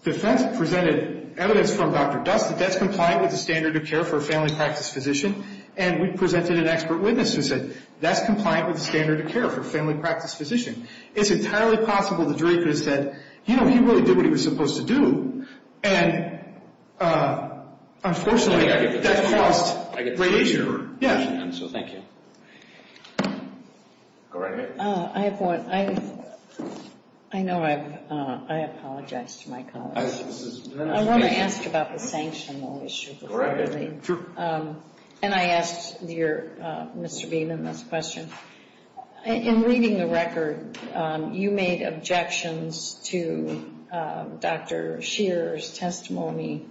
The defense presented evidence from Dr. Best that that's compliant with the standard of care for a family practice physician and we presented an expert witness who said, that's compliant with the standard of care for a family practice physician. It's entirely possible the jury could have said you know, he really did what he was supposed to do and unfortunately that caused my reading error. So thank you. I have one. I know I've I apologize to my colleagues. I want to answer Dr. Banks on the issue. And I ask Mr. Beeman this question. In reading the record, you made objections to Dr. Shearer's testimony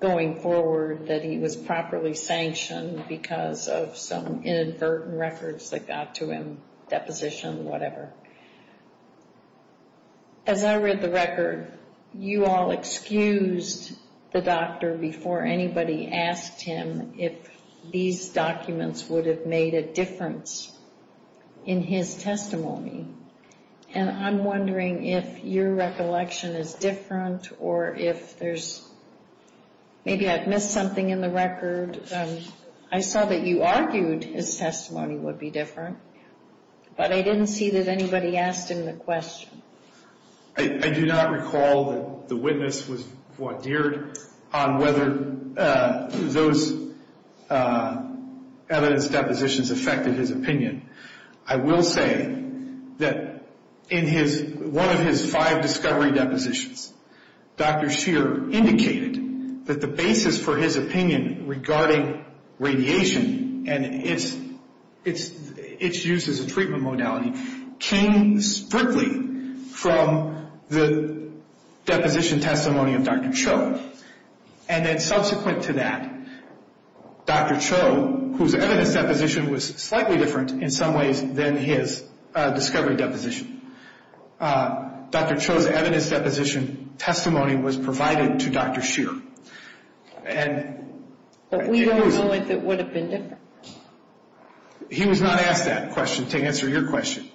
going forward that he was properly sanctioned because of some inadvertent records that got to him, deposition, whatever. When I read the record you all excused the doctor before anybody asked him if these documents would have made a difference in his testimony. And I'm wondering if your recollection is different or if there's maybe I've missed something in the record. I saw that you argued his testimony would be different. But I didn't see that anybody asked him the question. I do not recall that the witness was more geared on whether those evidence depositions affected his opinion. I will say that in one of his five discovery depositions, Dr. Shearer indicated that the basis for his opinion regarding radiation and its use as a treatment modality came strictly from the deposition testimony of Dr. Cho. And then subsequent to that, Dr. Cho, whose evidence deposition was slightly different in some ways than his discovery deposition. Dr. Cho's evidence deposition testimony was provided to Dr. Shearer. And... But we don't know if it would have been different. He was not asked that question to answer your question.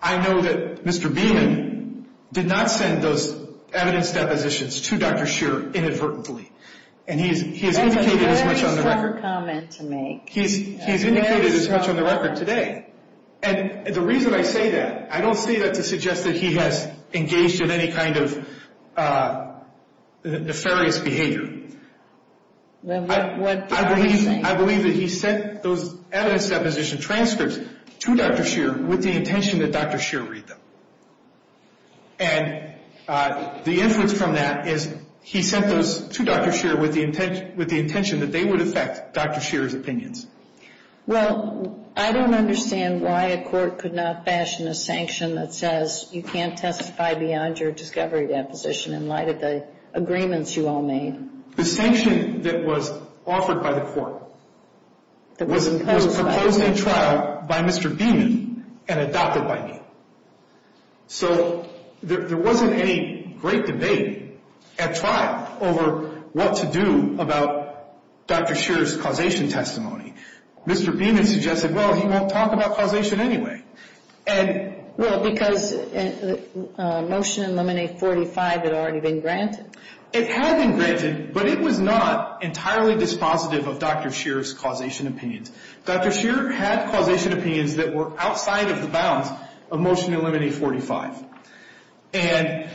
I know that Mr. Beeman did not send those evidence depositions to Dr. Shearer inadvertently. And he has indicated as much on the record. He has indicated as much on the record today. And the reason I say that, I don't say that to suggest that he has engaged in any kind of nefarious behavior. I believe that he sent those evidence deposition transfers to Dr. Shearer with the intention that Dr. Shearer read them. And the input from that is he sent those to Dr. Shearer with the intention that they would affect Dr. Shearer's opinions. Well, I don't understand why a court could not fashion a sanction that says you can't testify beyond your discovery deposition in light of the agreements you all made. The sanction that was offered by the court was imposed in trial by Mr. Beeman and adopted by me. So there wasn't any great debate at trial over what to do about Dr. Shearer's causation testimony. Mr. Beeman suggested, well, he won't talk about causation anyway. Well, because Motion to Eliminate 45 had already been granted? It had been granted, but it was not entirely dispositive of Dr. Shearer's causation opinions. Dr. Shearer had causation opinions that were outside of the bounds of Motion to Eliminate 45, and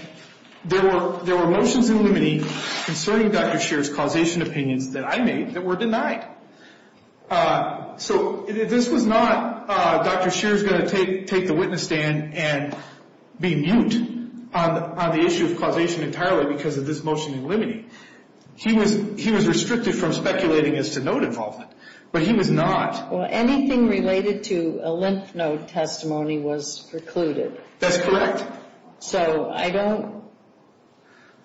there were motions to eliminate concerning Dr. Shearer's causation opinions that I made that were denied. So this was not Dr. Shearer's going to take the witness stand and be mute on the issue of causation entirely because of this Motion to Eliminate. He was restricted from speculating as to note involvement, but he was not. Well, anything related to a lymph node testimony was precluded. That's correct. So, I don't,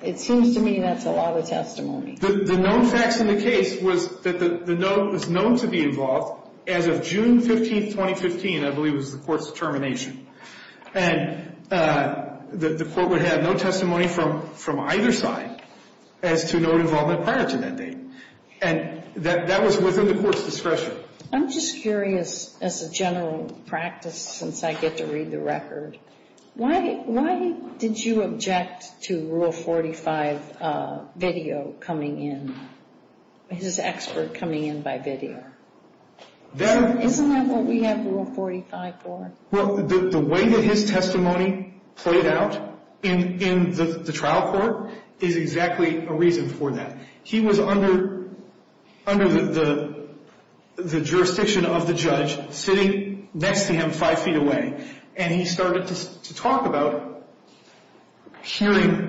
it seems to me that's a lot of testimony. The known fact of the case was that the note was known to be involved as of June 15, 2015, I believe it was the court's termination. And the court would have no testimony from either side as to note involvement prior to that date. And that was within the court's discretion. I'm just curious as a general practice since I get to read the record, why did you object to Rule 45 video coming in, his expert coming in by video? Isn't that what we had Rule 45 for? Well, the way that his testimony played out in the trial court is exactly a reason for that. He was under the jurisdiction of the judge sitting next to him five feet away. And he started to talk about hearing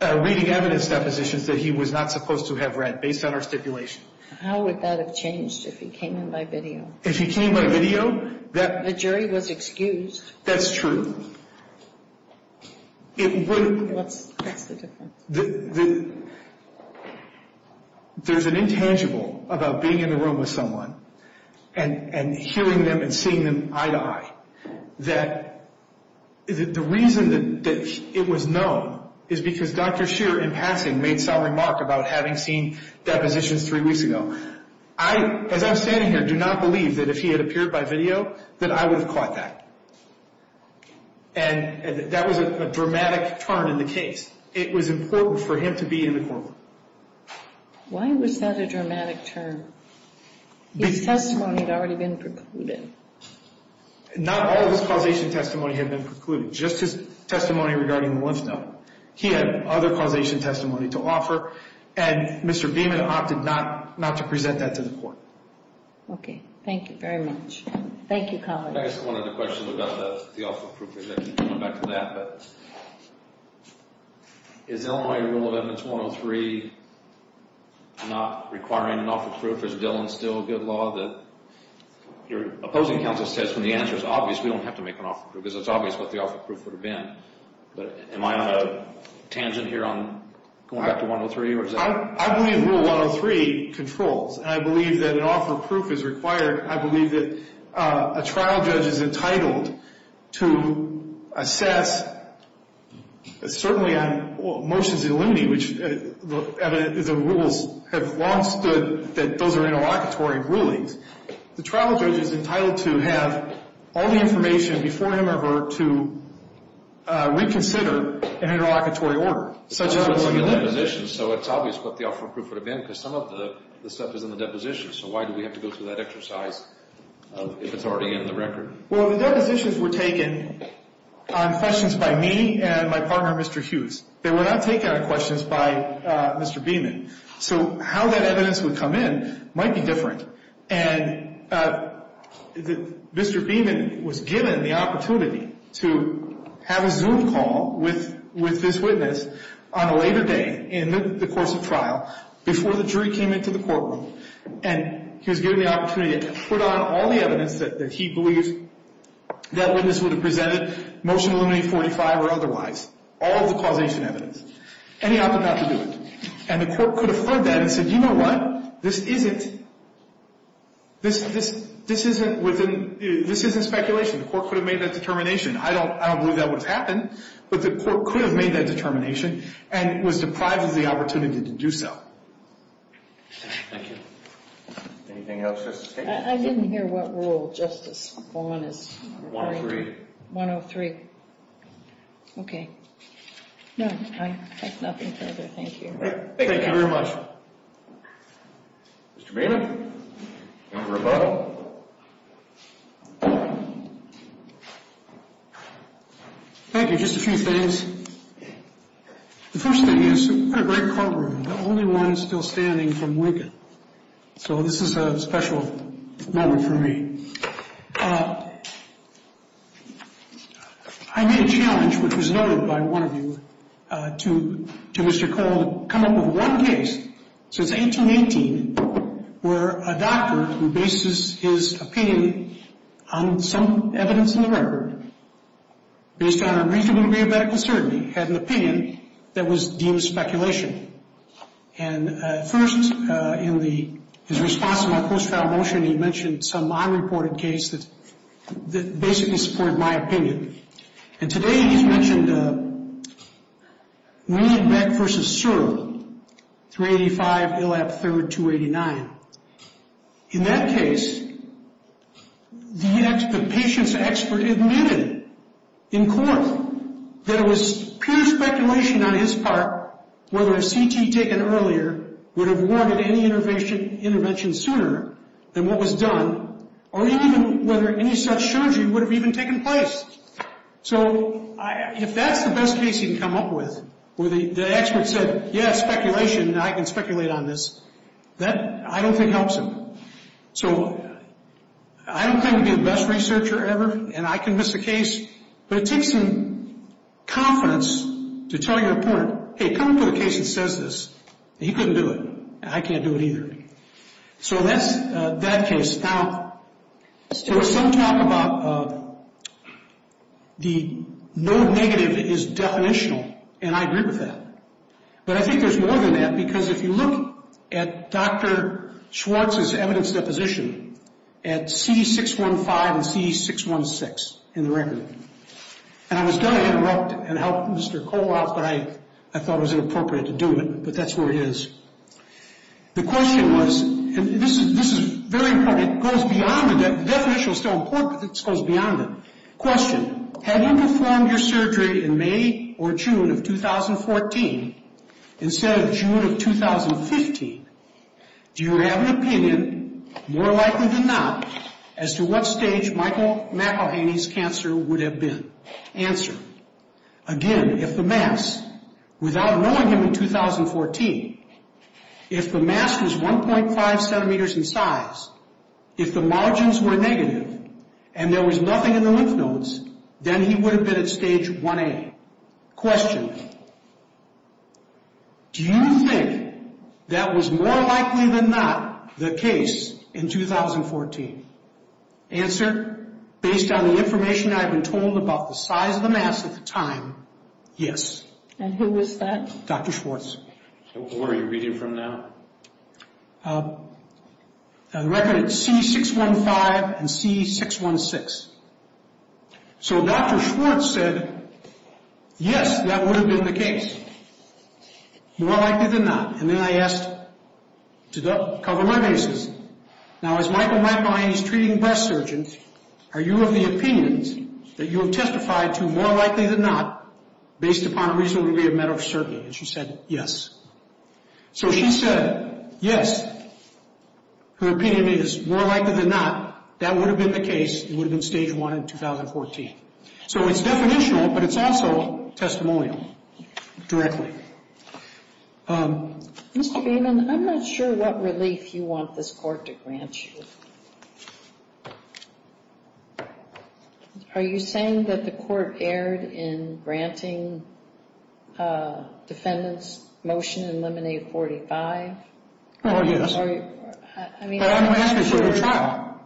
reading evidence that he was not supposed to have read based on our stipulation. How would that have changed if he came in by video? If he came in by video, the jury was excused. That's true. It would There's an important about being in a room with someone and hearing them and seeing them eye to eye that the reason that it was known is because Dr. Scheer in Paxson made some remarks about having seen depositions three weeks ago. I, as I'm standing here, do not believe that if he had appeared by video that I would have caught that. And that was a dramatic turn in the case. It was important for him to be in the courtroom. Why was that a dramatic turn? His testimony had already been precluded. Not all of his causation testimony had been precluded. Just his testimony regarding the one study. He had other causation testimony to offer and Mr. Bienen opted not to present that to the court. Okay. Thank you very much. Thank you, Collin. I just wanted to question about the offer of proof. Is Illinois Rule 11-103 not requiring an offer of proof? Is Dillon still a good law that you're opposing counsel's testimony? The answer is obvious. We don't have to make an offer of proof because it's obvious what the offer of proof would have been. But am I on a tangent here on going back to 103? I believe Rule 103 controls. I believe that an offer of proof is required. I believe that a trial judge is entitled to assess certainly on motions in limine which the rules have long stood that those are interlocutory rulings. The trial judge is entitled to have all the information before him or her to reconsider an interlocutory order. So it's obvious what the offer of proof would have been because some of the subject is in the deposition. So why do we have to go through that exercise of sorting out the record? Well, the depositions were taken on questions by me and my partner, Mr. Hughes. They were not taken on questions by Mr. Beeman. So how that evidence would come in might be different. Mr. Beeman was given the opportunity to have a Zoom call with this witness on a later day in the course of trial before the jury came into the courtroom. And he was given the opportunity to put on all the evidence that he believes that witness would have presented, motion eliminating 45 or otherwise, all the causation evidence. And he offered not to do it. And the court could have heard that and said, you know what, this isn't this isn't within, this isn't speculation. The court could have made that determination. I don't believe that would have happened, but the court could have made that determination and was deprived of the opportunity to do so. Thank you. Anything else? I didn't hear what rule. 103. That's nothing further. Thank you. Thank you very much. Mr. Beeman? Thank you. Just a few things. The first thing is this is a pretty great courtroom. The only one still standing from Lincoln. So this is a special moment for me. I made a challenge, which was voted by one of you, to Mr. Cole, come up with one case since 1818 where a doctor who bases his opinion on some evidence in the record based on a reasonable medical uncertainty had an opinion that was deemed speculation. And first in his response to my post-trial motion, he mentioned some unreported cases that basically support my opinion. And today he mentioned Mead v. Searle, 385 ill at third, 289. In that case, the patient's expert admitted in court that it was pure speculation on his part whether a CT taken earlier would have warranted any intervention sooner than what was done, or even whether any such surgery would have even taken place. So if that's the best case you come up with, where the expert said, yes, speculation, I can speculate on this, that I don't think helps him. So I don't think we have a medical researcher ever, and I can miss a case, but it takes some confidence to tell your court, hey, come to a case that says this. He couldn't do it. I can't do it either. So that case. Now, there was some talk about the no negative is definitional, and I agree with that. But I think there's more than that because if you look at Dr. Schwartz's evidence deposition at C615 and C616 in the record, and I was going to interrupt and help Mr. Kowalk, but I thought it was inappropriate to do it, but that's what it is. The question was, and this is very important, it goes beyond, that definition was so important that it goes beyond that. Question. Have you performed your surgery in May or June of 2014 instead of June of 2015? Do you have an opinion, more likely than not, as to what stage Michael McElhaney's cancer would have been? Answer. Again, if the mass, without knowing him in 2014, if the mass was 1.5 centimeters in size, if the margins were negative, and there was nothing in the lymph nodes, then he would have been at stage 1A. Question. Do you think that was more likely than not the case in 2014? Answer. Based on the information I've been told about the size of the mass at the time, yes. And who is that? Dr. Schwartz. Or are you reading from that? The record is C615 and C616. So Dr. Schwartz said, yes, that would have been the case. More likely than not. And then I asked, does that cover my bases? Now, as Michael McElhaney is treating breast surgeons, are you of the opinion that you have testified to more likely than not based upon a recent review of medical surgery? And she said, yes. So she said, yes, her opinion is more likely than not that would have been the case, it would have been stage 1 in 2014. So it's definitional, but it's also testimonial. Directly. Mr. Gaiman, I'm not sure what relief you want this court to grant you. Are you saying that the court erred in granting defendants motion to eliminate 45? I'm asking for a trial.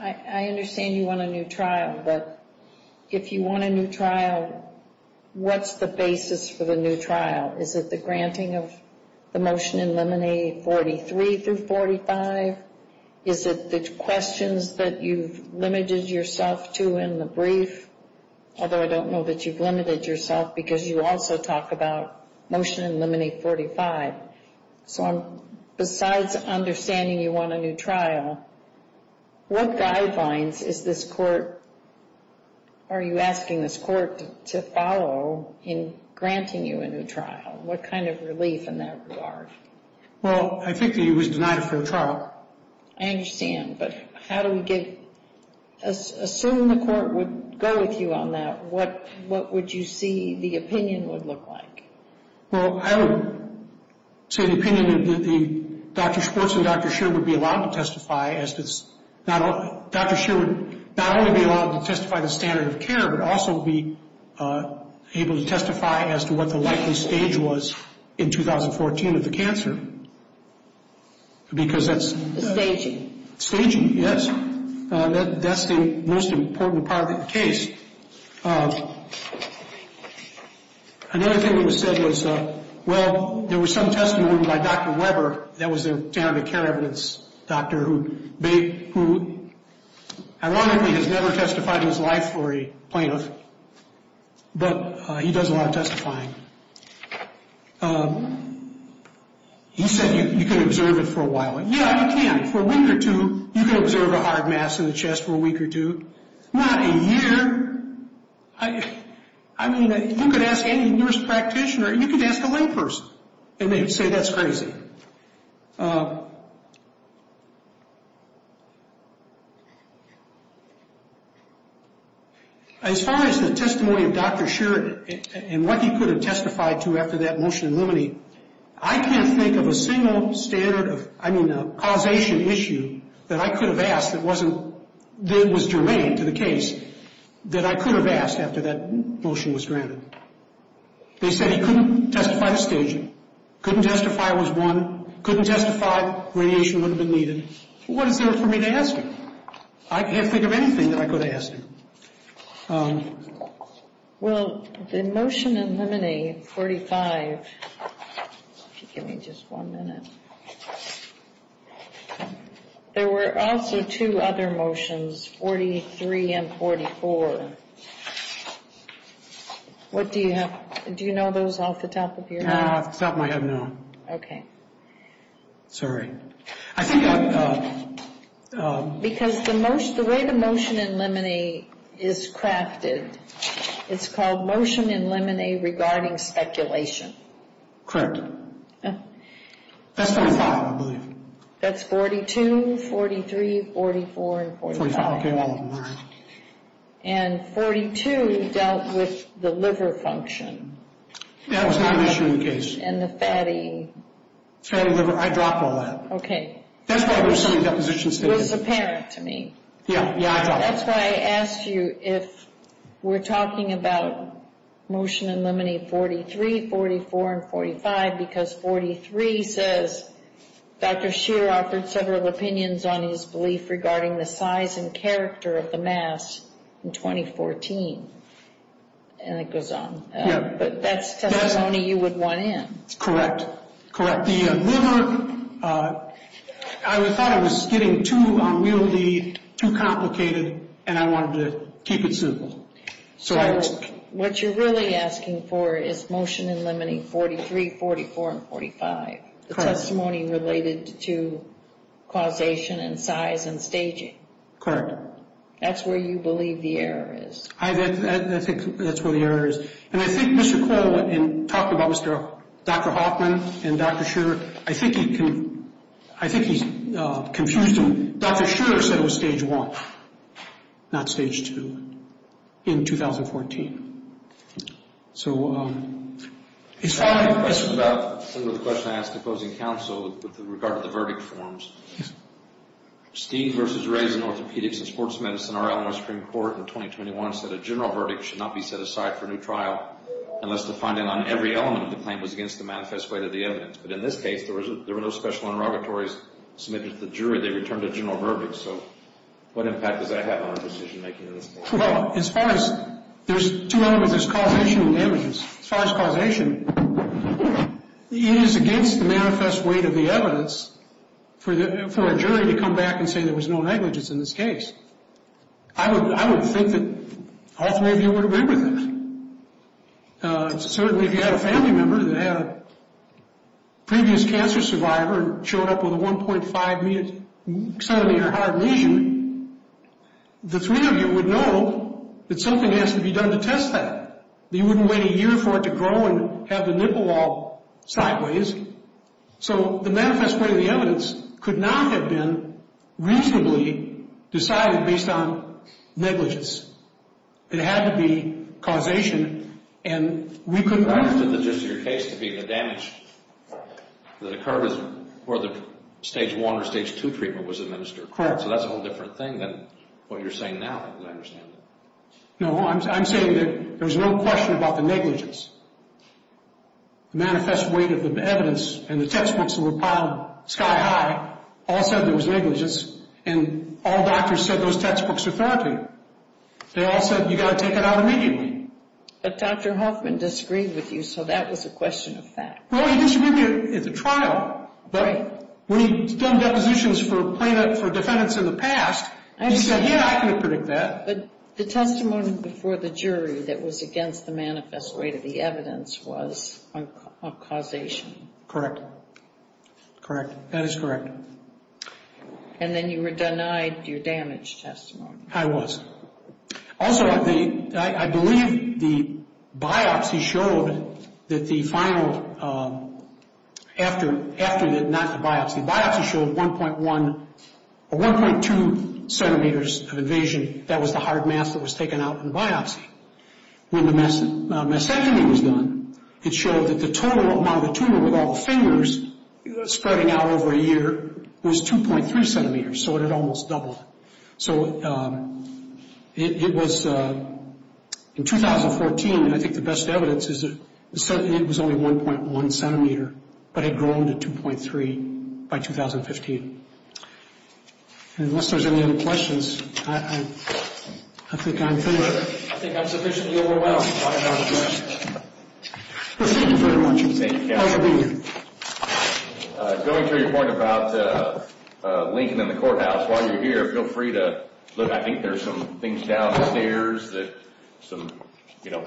I understand you want a new trial, but if you want a new trial, what's the basis for the new trial? Is it the granting of the motion eliminating 43 through 45? Is it the questions that you've limited yourself to in the brief? Although I don't know that you've limited yourself because you also talk about motion to eliminate 45. So besides understanding you want a new trial, what guidelines is this court are you asking this court to follow in granting you a new trial? What kind of relief in that regard? Well, I think it was denied a fair trial. I understand, but how do we get... Assuming the court would go with you on that, what would you see the opinion would look like? Well, I would see the opinion that the courts and Dr. Sheer would be allowed to testify as to... Dr. Sheer would not only be allowed to testify to standard of care, but also be able to testify as to what the likely stage was in 2014 of the cancer. Because that's... Staging, yes. That's the most important part of the case. Another thing we've said is well, there was some Dr. Weber, that was the standard of care of this doctor who I wonder if he has never testified in his life or a plaintiff, but he does a lot of testifying. He said you can observe it for a while. Yeah, you can. For a week or two, you can observe a hard mass in the chest for a week or two. Not a year. I mean, you can ask any nurse practitioner, you can ask a layperson, and they say that's crazy. As far as the testimony of Dr. Sheer and what he could have testified to after that motion of liberty, I can't think of a single causation issue that I could have asked that was germane to the case that I could have asked after that motion was granted. They said he couldn't testify to staging, couldn't testify it was one, couldn't testify radiation would have been needed. What is there for me to ask him? I can't think of anything that I could ask him. Well, the motion eliminating 45, give me just one minute, there were also two other motions, 43 and 44, what do you have? Do you know those off the top of your head? No, I don't know. Sorry. Because the way the motion eliminate is crafted, it's called motion eliminate regarding speculation. Correct. That's 42, 43, 44, 44, and 42 dealt with the liver function. That was not an issue in the case. And the fatty. Fatty liver, I dropped all that. Okay. It was apparent to me. That's why I asked you if we're talking about motion eliminating 43, 44 and 45, because 43 says Dr. Scheer offered several opinions on his belief regarding the size and character of the mass in 2014. And it goes on. But that's the testimony you would want in. Correct. The liver, I thought it was getting too unwieldy, too complicated, and I wanted to keep it simple. So, what you're really asking for is motion eliminating 43, 44, and 45, the testimony related to causation and size and staging. Correct. That's where you believe the error is. I think that's where the error is. And I think Mr. Kohl talked about Dr. Hoffman and Dr. Scheer. I think he's confusing. Dr. Scheer said it was Stage 1, not Stage 2, in 2014. I have a question about the closing counsel with regard to the verdict forms. Steen v. Ray in orthopedics and sports medicine are out in the Supreme Court in 2021, and said a general verdict should not be set aside for a new trial unless the finding on every element of the claim was against the manifest way of the evidence. But in this case, there were no special interrogatories submitted to the jury. They returned a general verdict. So, what impact does that have on our decision-making in this case? Well, as far as, there's two elements called issue of evidence. As far as causation, it is against the manifest way of the evidence for a jury to come back and say there was no negligence in this case. I would think that all three of you would agree with this. Certainly, if you had a family member that had a previous cancer survivor and showed up with a 1.5-millimeter heart ratio, the three of you would know that something has to be done to test that. You wouldn't wait a year for it to grow and have the nipple all sideways. So, the manifest way of the evidence could not have been reasonably decided based on negligence. It had to be causation, and we couldn't... But that's just your case of being a damage to the curve where the Stage 1 or Stage 2 treatment was administered. So, that's a whole different thing than what you're saying now, as far as I understand it. No, I'm saying that there's no question about the negligence. The manifest way of the evidence and the textbooks in the pile, sky-high, all said there was negligence, and all doctors said those textbooks are faulty. They all said you've got to take it out immediately. But Dr. Hoffman disagreed with you, so that was a question of fact. Well, he disagreed at the trial, but when he's done depositions for plaintiffs, for defendants in the past, he said, yeah, I can predict that. But the testimony before the jury that was against the manifest way of the evidence was a causation. Correct. That is correct. And then you were denied your damage testimony. I was. Also, I believe the biopsy showed that the final... after the biopsy, the biopsy showed that 1.1... 1.2 centimeters of invasion, that was the hard mass that was taken out in the biopsy. When the mastectomy was done, it showed that the total amount of the tumor with all the fingers spreading out over a year was 2.3 centimeters, so it had almost doubled. So it was in 2014, I think the best evidence is that it was only 1.1 centimeter, but it had grown to 2.3 by 2015. And unless there's any other questions, I think I'm through. I think I'm sufficiently overwhelmed by all the questions. Thank you very much. Thank you. Going through your point about Lincoln and the courthouse, while you're here, feel free to look. I think there's some things downstairs that some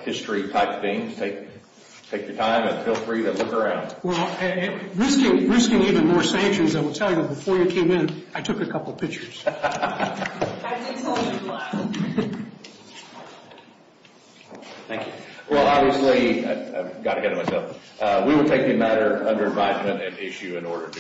history-type things take the time, and feel free to look around. Risking even more sanctions, before you came in, I took a couple pictures. Well, obviously, we were taking matter under environment and issue in order to